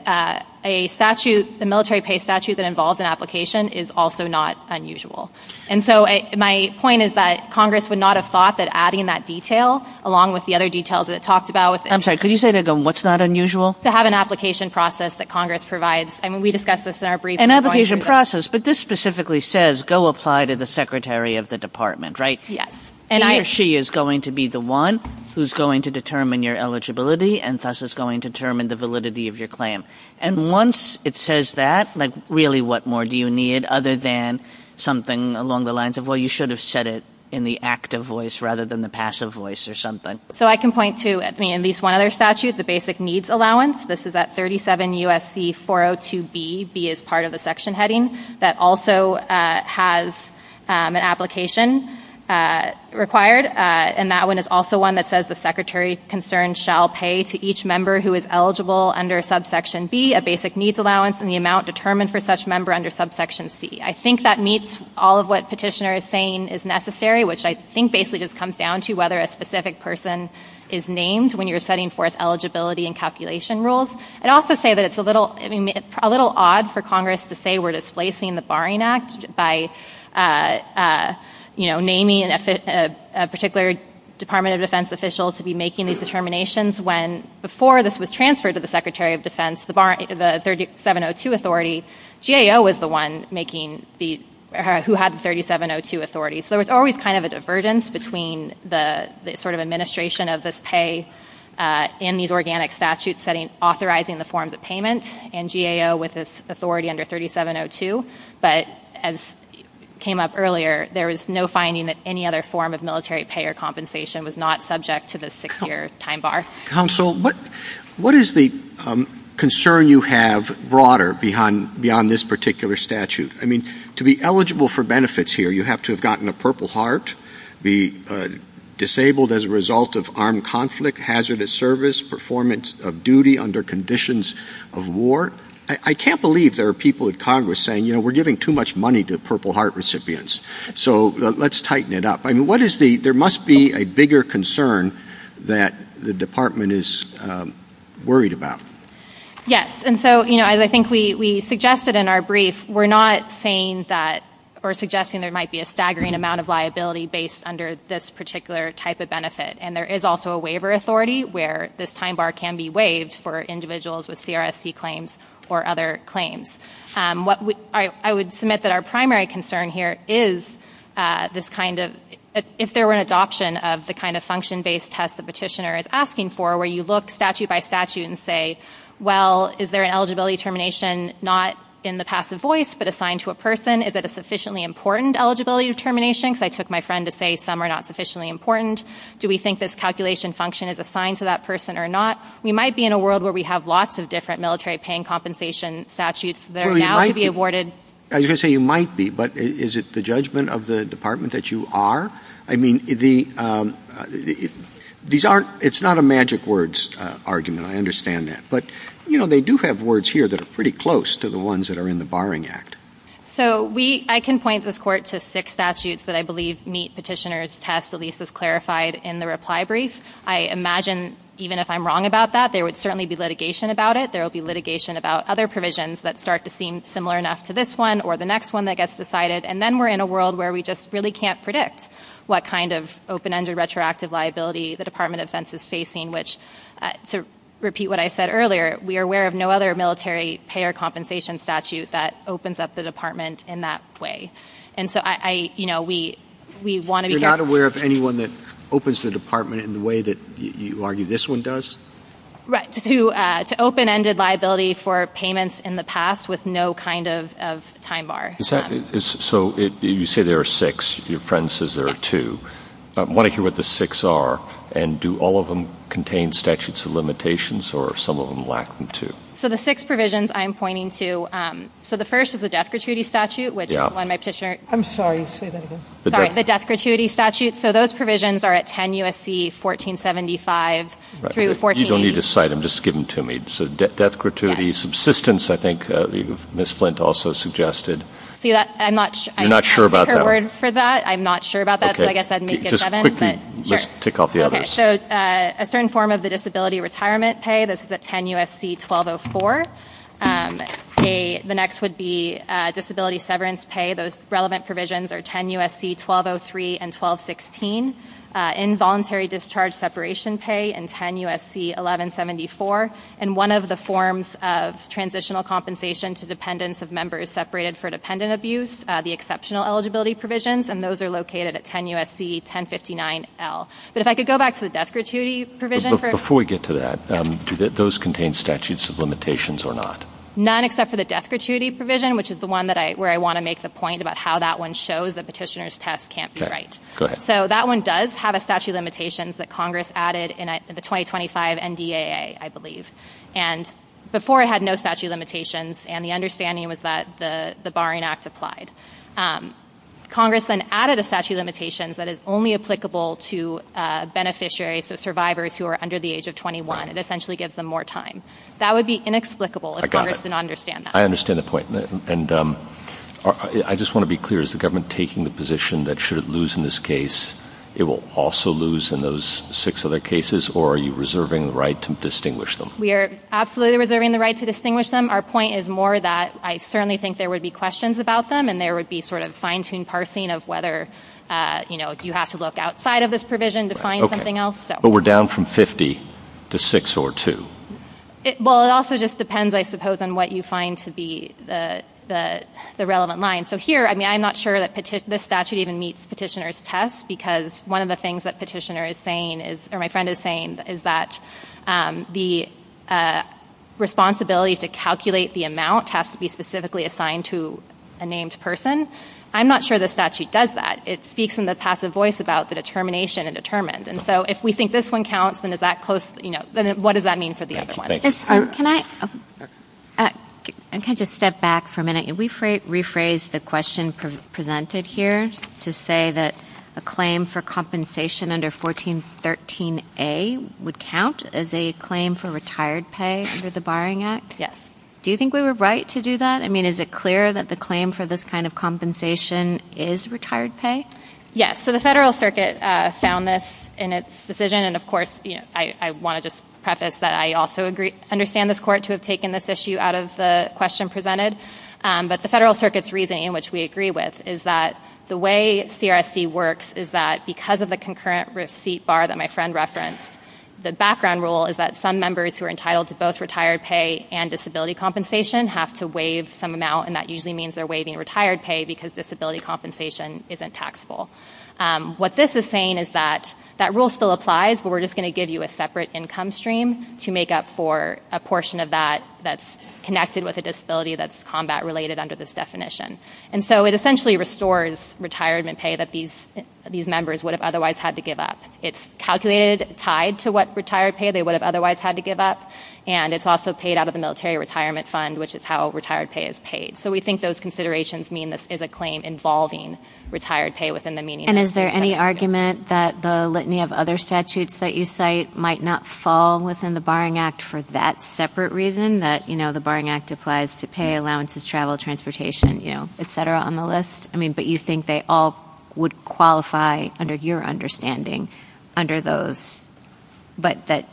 a statute, the military pay statute that involves an application is also not unusual. And so my point is that Congress would not have thought that adding that detail, along with the other details that it talked about with the MS. RAHMAN I'm sorry, could you say that again? What's not unusual? MS. RAHMAN To have an application process that Congress provides. I mean, we discussed this in our brief. JUSTICE SONIA SOTOMAYOR An application process, but this specifically says go apply to the secretary of the department, right? MS. RAHMAN Yes. JUSTICE SONIA SOTOMAYOR He or she is going to be the one who's going to determine your eligibility and thus is going to determine the validity of your claim. And once it says that, like, really, what more do you need other than something along the lines of, well, you should have said it in the active voice rather than the passive voice or something? MS. RAHMAN So I can point to, I mean, at least one other statute, the basic needs allowance. This is at 37 U.S.C. 402B. B is part of the section heading that also has an application required. And that one is also one that says the secretary concerned shall pay to each member who is eligible under subsection B a basic needs allowance in the amount determined for such member under subsection C. I think that meets all of what petitioner is saying is necessary, which I think basically just comes down to whether a specific person is named when you're setting forth eligibility and calculation rules. I'd also say that it's a little, I mean, a little odd for Congress to say we're displacing the Barring Act by, you know, naming a particular Department of Defense official to be making these determinations when before this was transferred to the Secretary of Defense, the 3702 authority, GAO was the one making the, who had the 3702 authority. So there was always kind of a divergence between the sort of administration of this pay and these organic statutes setting, authorizing the forms of payment and GAO with this authority under 3702. But as came up earlier, there was no finding that any other form of military pay or compensation was not subject to the six-year time bar. Counsel, what is the concern you have broader beyond this particular statute? I mean, to be eligible for benefits here, you have to have gotten a Purple Heart, be disabled as a result of armed conflict, hazardous service, performance of duty under conditions of war. I can't believe there are people in Congress saying, you know, we're giving too much money to Purple Heart recipients. So let's tighten it up. I mean, what is the, there must be a bigger concern that the Department is worried about. Yes. And so, you know, as I think we suggested in our brief, we're not saying that or suggesting there might be a staggering amount of liability based under this particular type of benefit. And there is also a waiver authority where this time bar can be waived for individuals with CRSC claims or other claims. What I would submit that our primary concern here is this kind of, if there were an adoption of the kind of function-based test the petitioner is asking for, where you look statute by statute and say, well, is there an eligibility termination not in the passive voice, but assigned to a person? Is it a sufficiently important eligibility determination? Because I took my friend to say some are not sufficiently important. Do we think this calculation function is assigned to that person or not? We might be in a world where we have lots of different military paying compensation statutes that are now to be awarded. I was going to say you might be, but is it the judgment of the Department that you are? I mean, these aren't, it's not a magic words argument. I understand that. But, you know, they do have words here that are pretty close to the ones that are in the Barring Act. So we, I can point this court to six statutes that I believe meet petitioner's test, at least as clarified in the reply brief. I imagine even if I'm wrong about that, there would certainly be litigation about it. There will be litigation about other provisions that start to seem similar enough to this one or the next one that gets decided. And then we're in a world where we just really can't predict what kind of open-ended retroactive liability the Department of Defense is facing, which to repeat what I said earlier, we are aware of no other military payer compensation statute that opens up the Department in that way. And so I, you know, we, we want to be... You're not aware of anyone that opens the Department in the way that you argue this one does? Right. To open-ended liability for payments in the past with no kind of time bar. So you say there are six. Your friend says there are two. I want to hear what the six are and do all of them contain statutes of limitations or some of them lack them too. So the six provisions I'm pointing to. So the first is the death gratuity statute, which is one my petitioner... I'm sorry, say that again. Sorry. The death gratuity statute. So those provisions are at 10 U.S.C. 1475 through 1480. You don't need to cite them. Just give them to me. So death gratuity subsistence, I think Ms. Flint also suggested. See, I'm not sure. You're not sure about that one? I'm not sure about that. So I guess I'd make it seven. Just quickly, let's tick off the others. So a certain form of the disability retirement pay. This is at 10 U.S.C. 1204. The next would be disability severance pay. Those relevant provisions are 10 U.S.C. 1203 and 1216. Involuntary discharge separation pay and 10 U.S.C. 1174. And one of the forms of transitional compensation to dependents of members separated for dependent abuse, the exceptional eligibility provisions. And those are located at 10 U.S.C. 1059L. But if I could go back to the death gratuity provision. But before we get to that, do those contain statutes of limitations or not? None except for the death gratuity provision, which is the one where I want to make the point about how that one shows that petitioner's test can't be right. Okay. Go ahead. So that one does have a statute of limitations that Congress added in the 2025 NDAA, I believe. And before it had no statute of limitations. And the understanding was that the barring act applied. And Congress then added a statute of limitations that is only applicable to beneficiaries, so survivors who are under the age of 21. It essentially gives them more time. That would be inexplicable if Congress did not understand that. I understand the point. And I just want to be clear. Is the government taking the position that should it lose in this case, it will also lose in those six other cases? Or are you reserving the right to distinguish them? We are absolutely reserving the right to distinguish them. Our point is more that I certainly think there would be questions about them. And there would be sort of fine-tuned parsing of whether, you know, do you have to look outside of this provision to find something else? But we're down from 50 to six or two. Well, it also just depends, I suppose, on what you find to be the relevant line. So here, I mean, I'm not sure that this statute even meets petitioner's test. Because one of the things that petitioner is saying is, or my friend is saying, is that the responsibility to calculate the amount has to be specifically assigned to a named person. I'm not sure the statute does that. It speaks in the passive voice about the determination and determined. And so if we think this one counts, then is that close? You know, then what does that mean for the other one? Can I just step back for a minute? Can we rephrase the question presented here to say that a claim for compensation under 1413A would count as a claim for retired pay under the Barring Act? Yes. Do you think we were right to do that? Is it clear that the claim for this kind of compensation is retired pay? Yes. So the Federal Circuit found this in its decision. And of course, I want to just preface that I also understand this Court to have taken this issue out of the question presented. But the Federal Circuit's reasoning, which we agree with, is that the way CRSC works is that because of the concurrent receipt bar that my friend referenced, the background rule is that some members who are entitled to both retired pay and disability compensation have to waive some amount. And that usually means they're waiving retired pay because disability compensation isn't taxable. What this is saying is that that rule still applies, but we're just going to give you a separate income stream to make up for a portion of that that's connected with a disability that's combat-related under this definition. And so it essentially restores retirement pay that these members would have otherwise had to give up. It's calculated, tied to what retired pay they would have otherwise had to give up. And it's also paid out of the Military Retirement Fund, which is how retired pay is paid. So we think those considerations mean this is a claim involving retired pay within the meaning of the Federal Circuit. And is there any argument that the litany of other statutes that you cite might not fall within the Barring Act for that separate reason? That, you know, the Barring Act applies to pay, allowances, travel, transportation, you know, et cetera, on the list? I mean, but you think they all would qualify, under your understanding, under those, but that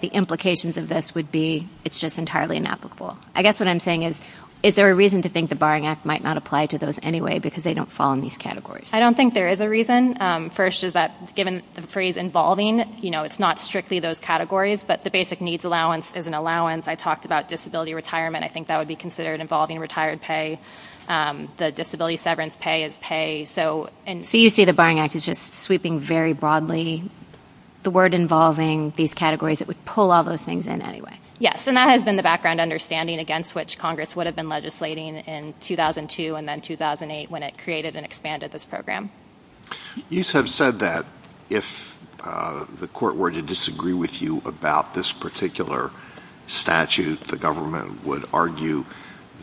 the implications of this would be it's just entirely inapplicable. I guess what I'm saying is, is there a reason to think the Barring Act might not apply to those anyway because they don't fall in these categories? I don't think there is a reason. First is that, given the phrase involving, you know, it's not strictly those categories, but the basic needs allowance is an allowance. I talked about disability retirement. I think that would be considered involving retired pay. The disability severance pay is pay. So you see the Barring Act is just sweeping very broadly the word involving these categories that would pull all those things in anyway. Yes. And that has been the background understanding against which Congress would have been legislating in 2002 and then 2008 when it created and expanded this program. You have said that if the court were to disagree with you about this particular statute, the government would argue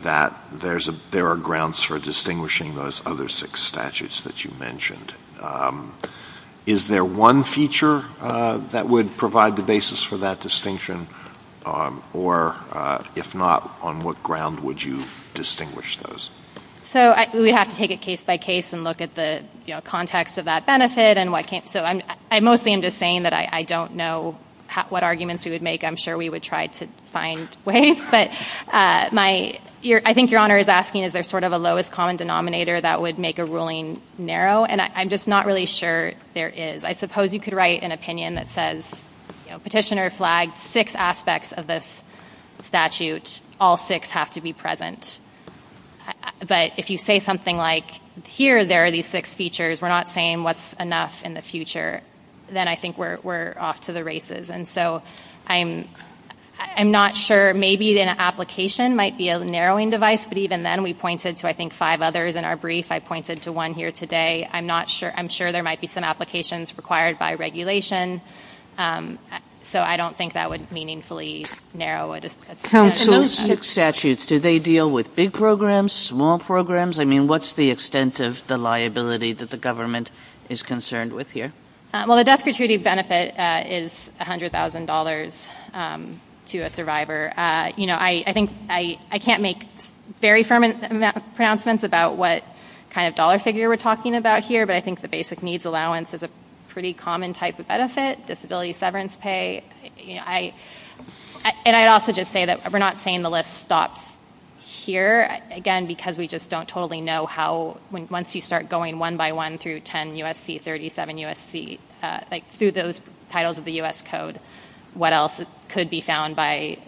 that there are grounds for distinguishing those other six that you mentioned. Is there one feature that would provide the basis for that distinction? Or if not, on what ground would you distinguish those? So we would have to take it case by case and look at the, you know, context of that benefit and what came. So I mostly am just saying that I don't know what arguments we would make. I'm sure we would try to find ways. But I think Your Honor is asking is there sort of a lowest common denominator that would make a ruling narrow? And I'm just not really sure there is. I suppose you could write an opinion that says, you know, Petitioner flagged six aspects of this statute. All six have to be present. But if you say something like here there are these six features, we're not saying what's enough in the future, then I think we're off to the races. And so I'm not sure. Maybe an application might be a narrowing device. But even then we pointed to, I think, five others in our brief. I pointed to one here today. I'm not sure. I'm sure there might be some applications required by regulation. So I don't think that would meaningfully narrow it. And those six statutes, do they deal with big programs, small programs? I mean, what's the extent of the liability that the government is concerned with here? Well, the death gratuity benefit is $100,000 to a survivor. I think I can't make very firm pronouncements about what kind of dollar figure we're talking about here. But I think the basic needs allowance is a pretty common type of benefit. Disability severance pay. And I'd also just say that we're not saying the list stops here. Again, because we just don't totally know how once you start going one by one through 10 USC, 37 USC, like through those titles of the US Code, what else could be found by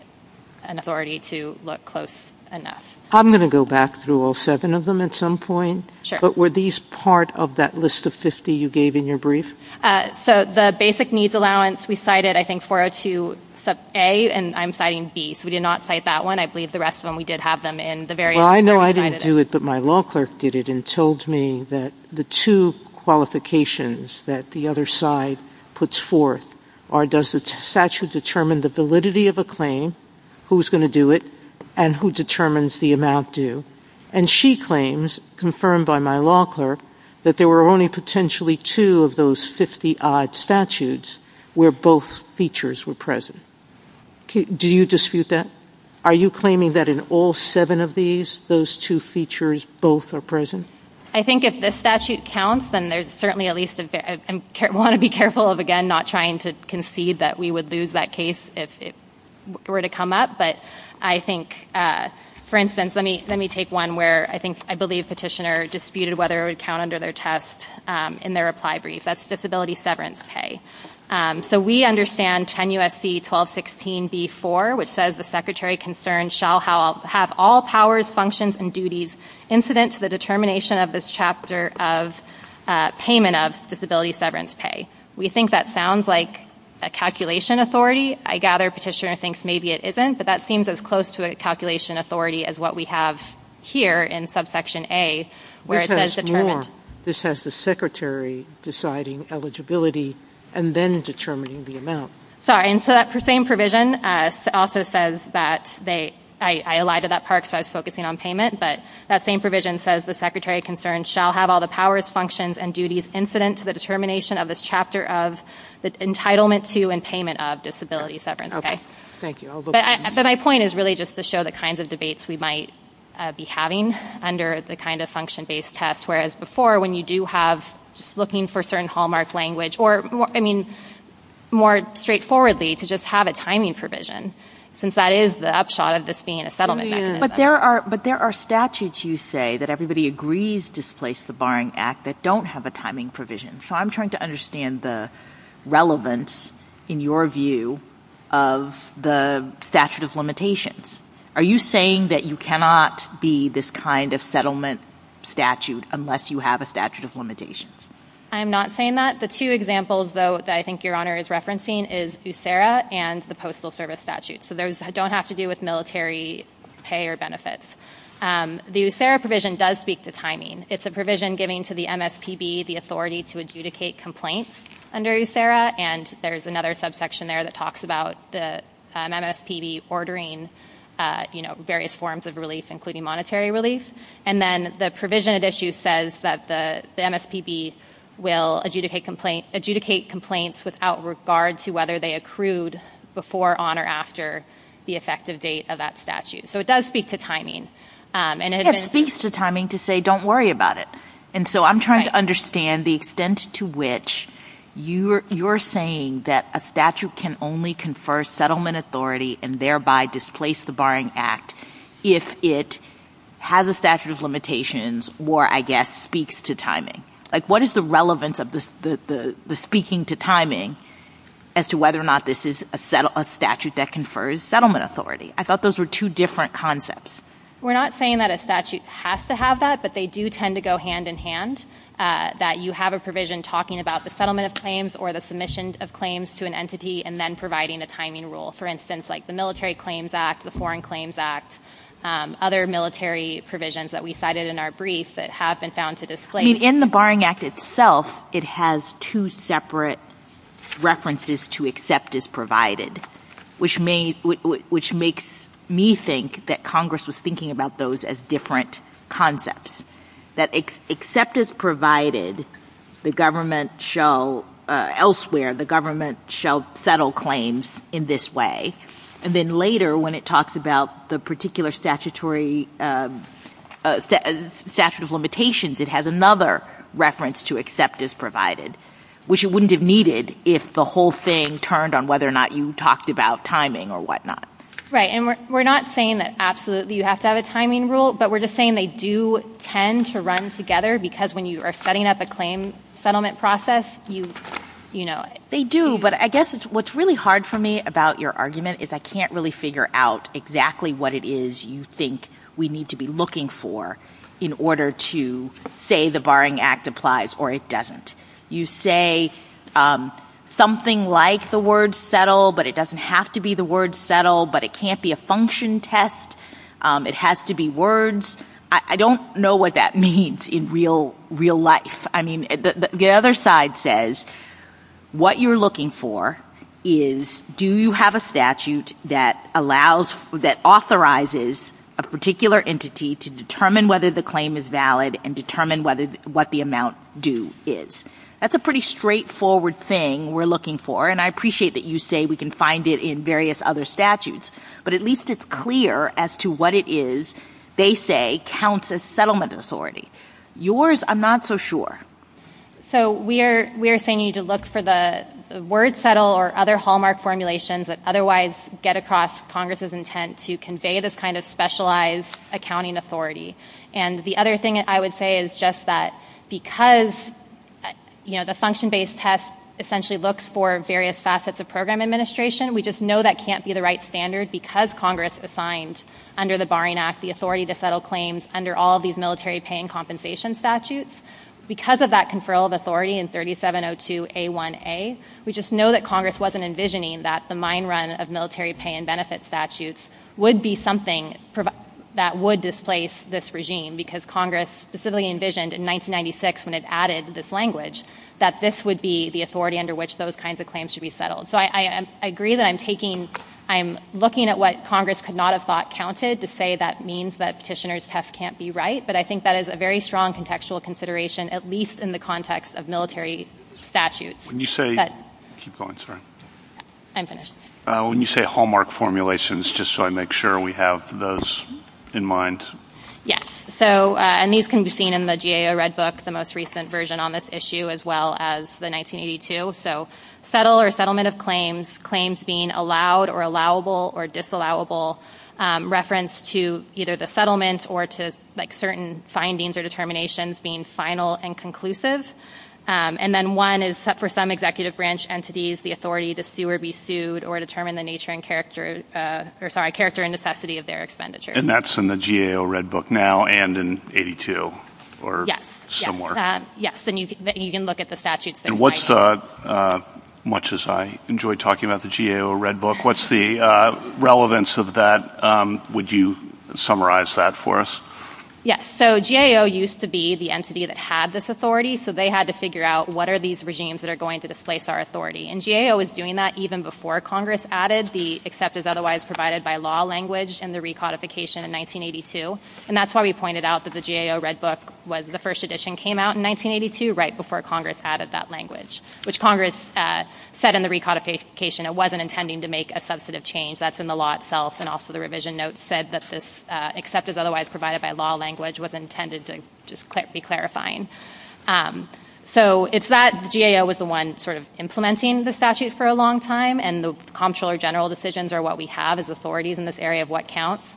an authority to look close enough. I'm going to go back through all seven of them at some point. Sure. But were these part of that list of 50 you gave in your brief? So the basic needs allowance, we cited, I think, 402 sub a. And I'm citing b. So we did not cite that one. I believe the rest of them, we did have them in the various. I know I didn't do it, but my law clerk did it and told me that the two qualifications that the other side puts forth are, does the statute determine the validity of a claim? Who's going to do it? And who determines the amount due? And she claims, confirmed by my law clerk, that there were only potentially two of those 50 odd statutes where both features were present. Do you dispute that? Are you claiming that in all seven of these, those two features both are present? I think if this statute counts, then there's certainly at least, want to be careful of, again, not trying to concede that we would lose that case if it were to come up. But I think, for instance, let me, let me take one where I think, I believe petitioner disputed whether it would count under their test in their reply brief. That's disability severance pay. So we understand 10 U.S.C. 1216b4, which says the secretary concerned shall have all powers, functions, and duties incident to the determination of this chapter of payment of disability severance pay. We think that sounds like a calculation authority. I gather petitioner thinks maybe it isn't, but that seems as close to a calculation authority as what we have here in subsection A, where it says determined. This has the secretary deciding eligibility and then determining the amount. Sorry. And so that same provision also says that they, I lied to that part, so I was focusing on payment, but that same provision says the secretary concerned shall have all the powers, functions, and duties incident to the determination of this chapter of the entitlement to and payment of disability severance pay. Thank you. But my point is really just to show the kinds of debates we might be having under the kind of function-based tests, whereas before, when you do have just looking for certain hallmark language or, I mean, more straightforwardly to just have a timing provision, since that is the upshot of this being a settlement mechanism. But there are statutes, you say, that everybody agrees displace the barring act that don't have a timing provision. So I'm trying to understand the relevance, in your view, of the statute of limitations. Are you saying that you cannot be this kind of settlement statute unless you have a statute of limitations? I'm not saying that. The two examples, though, that I think Your Honor is referencing is USERA and the Postal Service Statute. So those don't have to do with military pay or benefits. The USERA provision does speak to timing. It's a provision giving to the MSPB the authority to adjudicate complaints under USERA. And there's another subsection there that talks about the MSPB ordering various forms of relief, including monetary relief. And then the provision at issue says that the MSPB will adjudicate complaints without regard to whether they accrued before, on, or after the effective date of that statute. So it does speak to timing. And it speaks to timing to say, don't worry about it. And so I'm trying to understand the extent to which you're saying that a statute can only confer settlement authority and thereby displace the barring act if it has a statute of limitations or, I guess, speaks to timing. Like, what is the relevance of the speaking to timing as to whether or not this is a statute that confers settlement authority? I thought those were two different concepts. We're not saying that a statute has to have that. But they do tend to go hand in hand, that you have a provision talking about the settlement of claims or the submission of claims to an entity and then providing a timing rule. For instance, like the Military Claims Act, the Foreign Claims Act, other military provisions that we cited in our brief that have been found to displace. In the Barring Act itself, it has two separate references to accept as provided, which makes me think that Congress was thinking about those as different concepts. That except as provided, the government shall, elsewhere, the government shall settle claims in this way. And then later, when it talks about the particular statutory statute of limitations, it has another reference to accept as provided, which it wouldn't have needed if the whole thing turned on whether or not you talked about timing or whatnot. Right. And we're not saying that, absolutely, you have to have a timing rule. But we're just saying they do tend to run together. Because when you are setting up a claim settlement process, you know it. They do. But I guess what's really hard for me about your argument is I can't really figure out exactly what it is you think we need to be looking for in order to say the Barring Act applies or it doesn't. You say something like the word settle, but it doesn't have to be the word settle, but it can't be a function test. It has to be words. I don't know what that means in real life. I mean, the other side says what you're looking for is do you have a statute that allows authorizes a particular entity to determine whether the claim is valid and determine what the amount due is. That's a pretty straightforward thing we're looking for. And I appreciate that you say we can find it in various other statutes. But at least it's clear as to what it is they say counts as settlement authority. Yours, I'm not so sure. So we are saying you need to look for the word settle or other hallmark formulations that otherwise get across Congress's intent to convey this kind of specialized accounting authority. And the other thing I would say is just that because the function-based test essentially looks for various facets of program administration, we just know that can't be the right standard because Congress assigned under the Barring Act the authority to settle claims under all of these military paying compensation statutes. Because of that conferral of authority in 3702A1A, we just know that Congress wasn't envisioning that the mine run of military pay and benefit statutes would be something that would displace this regime. Because Congress specifically envisioned in 1996 when it added this language that this would be the authority under which those kinds of claims should be settled. So I agree that I'm taking, I'm looking at what Congress could not have thought counted to say that means that petitioner's test can't be right. But I think that is a very strong contextual consideration, at least in the context of military statutes. When you say, keep going, sorry. I'm finished. When you say hallmark formulations, just so I make sure we have those in mind. Yes. So, and these can be seen in the GAO Red Book, the most recent version on this issue, as well as the 1982. So settle or settlement of claims, claims being allowed or allowable or disallowable, reference to either the settlement or to like certain findings or determinations being final and conclusive. And then one is for some executive branch entities, the authority to sue or be sued or determine the nature and character, or sorry, character and necessity of their expenditure. And that's in the GAO Red Book now and in 82? Yes. Somewhere. Yes. And you can look at the statutes. And what's the, much as I enjoy talking about the GAO Red Book, what's the relevance of that? Would you summarize that for us? Yes. So GAO used to be the entity that had this authority. So they had to figure out what are these regimes that are going to displace our authority. And GAO was doing that even before Congress added the except as otherwise provided by law language in the recodification in 1982. And that's why we pointed out that the GAO Red Book was the first edition came out in 1982, right before Congress added that language, which Congress said in the recodification, it wasn't intending to make a substantive change. That's in the law itself. And also the revision note said that this except as otherwise provided by law language was intended to just be clarifying. So it's that the GAO was the one sort of implementing the statute for a long time. And the comptroller general decisions are what we have as authorities in this area of what counts.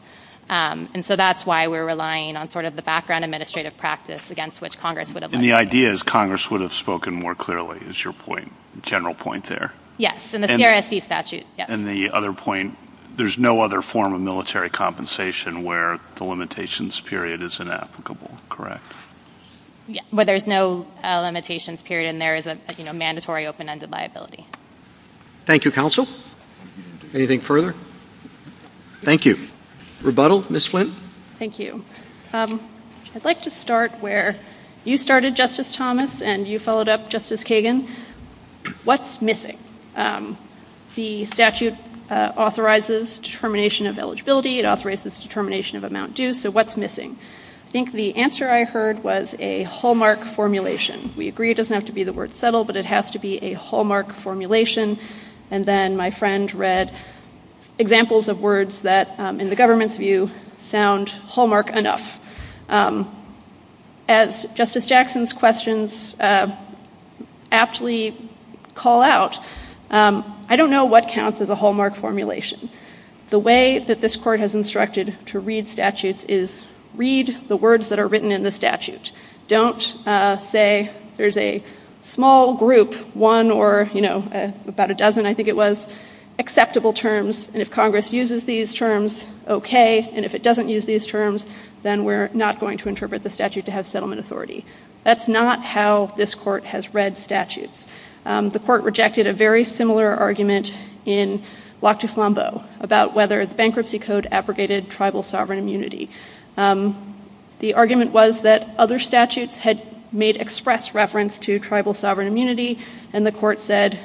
And so that's why we're relying on sort of the background administrative practice against which Congress would have led. And the idea is Congress would have spoken more clearly is your point, general point there. Yes. And the CRSC statute, yes. And the other point, there's no other form of military compensation where the limitations period is inapplicable, correct? Yeah. Where there's no limitations period and there is a mandatory open-ended liability. Thank you, counsel. Anything further? Thank you. Rebuttal, Ms. Flint. Thank you. I'd like to start where you started, Justice Thomas, and you followed up, Justice Kagan. What's missing? The statute authorizes determination of eligibility. It authorizes determination of amount due. So what's missing? I think the answer I heard was a hallmark formulation. We agree it doesn't have to be the word settle, but it has to be a hallmark formulation. And then my friend read examples of words that, in the government's view, sound hallmark enough. As Justice Jackson's questions aptly call out, I don't know what counts as a hallmark formulation. The way that this Court has instructed to read statutes is read the words that are written in the statute. Don't say there's a small group, one or about a dozen, I think it was, acceptable terms. And if Congress uses these terms, OK. And if it doesn't use these terms, then we're not going to interpret the statute to have settlement authority. That's not how this Court has read statutes. The Court rejected a very similar argument in Lac du Flambeau about whether the bankruptcy code abrogated tribal sovereign immunity. The argument was that other statutes had made express reference to tribal sovereign immunity, and the Court said,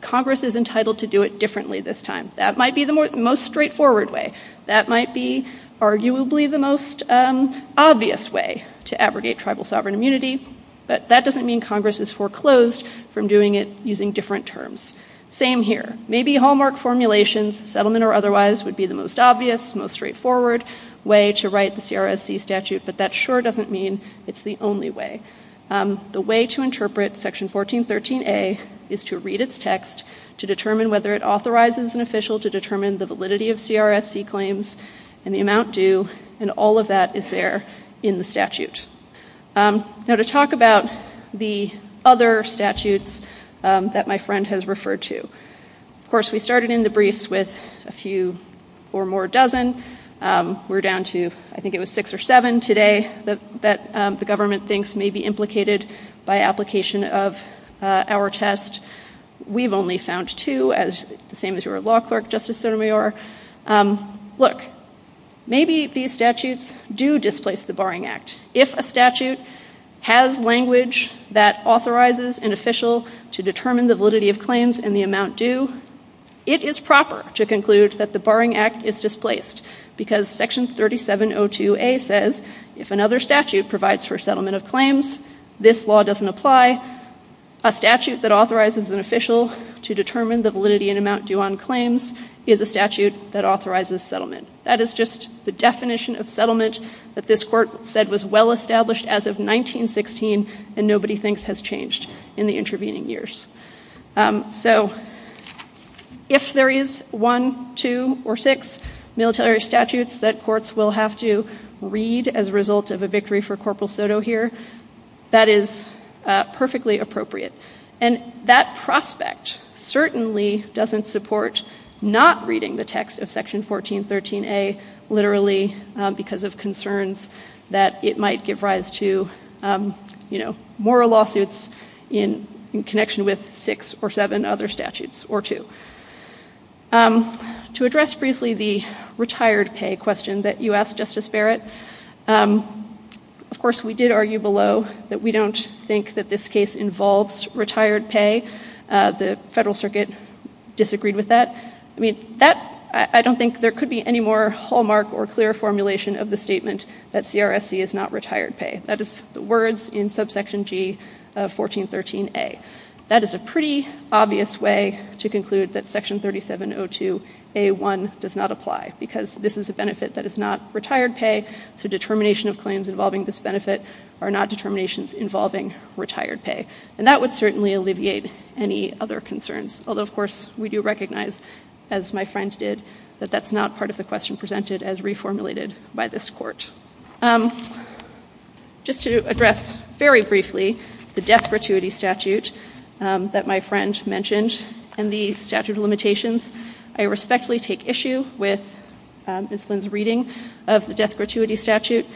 Congress is entitled to do it differently this time. That might be the most straightforward way. That might be arguably the most obvious way to abrogate tribal sovereign immunity. But that doesn't mean Congress is foreclosed from doing it using different terms. Same here. Maybe hallmark formulations, settlement or otherwise, would be the most obvious, most straightforward way to write the CRSC statute. But that sure doesn't mean it's the only way. The way to interpret Section 1413a is to read its text to determine whether it authorizes an official to determine the validity of CRSC claims and the amount due, and all of that is there in the statute. Now, to talk about the other statutes that my friend has referred to, of course, we started in the briefs with a few or more dozen. We're down to, I think it was six or seven today that the government thinks may be implicated by application of our test. We've only found two, the same as your law clerk, Justice Sotomayor. Look, maybe these statutes do displace the Barring Act. If a statute has language that authorizes an official to determine the validity of claims and the amount due, it is proper to conclude that the Barring Act is displaced because Section 3702a says if another statute provides for settlement of claims, this law doesn't apply. A statute that authorizes an official to determine the validity and amount due on claims is a statute that authorizes settlement. That is just the definition of settlement that this Court said was well established as of 1916, and nobody thinks has changed in the intervening years. So if there is one, two, or six military statutes that courts will have to read as a result of a victory for Corporal Soto here, that is perfectly appropriate. And that prospect certainly doesn't support not reading the text of Section 1413a literally because of concerns that it might give rise to, you know, more lawsuits in connection with six or seven other statutes or two. To address briefly the retired pay question that you asked, Justice Barrett, of course we did argue below that we don't think that this case involves retired pay. The Federal Circuit disagreed with that. I mean, that, I don't think there could be any more hallmark or clear formulation of the statement that CRSC is not retired pay. That is the words in subsection G of 1413a. That is a pretty obvious way to conclude that Section 3702a-1 does not apply because this is a benefit that is not retired pay, so determination of claims involving this benefit are not determinations involving retired pay. And that would certainly alleviate any other concerns. Although, of course, we do recognize, as my friend did, that that's not part of the question presented as reformulated by this Court. Just to address very briefly the death gratuity statute that my friend mentioned and the statute of limitations, I respectfully take issue with Ms. Flynn's reading of the death gratuity statute.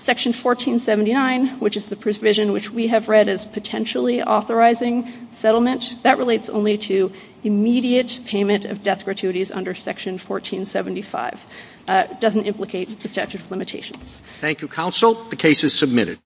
Section 1479, which is the provision which we have read as potentially authorizing settlement, that relates only to immediate payment of death gratuities under Section 1475. It doesn't implicate the statute of limitations. Thank you, counsel. The case is submitted.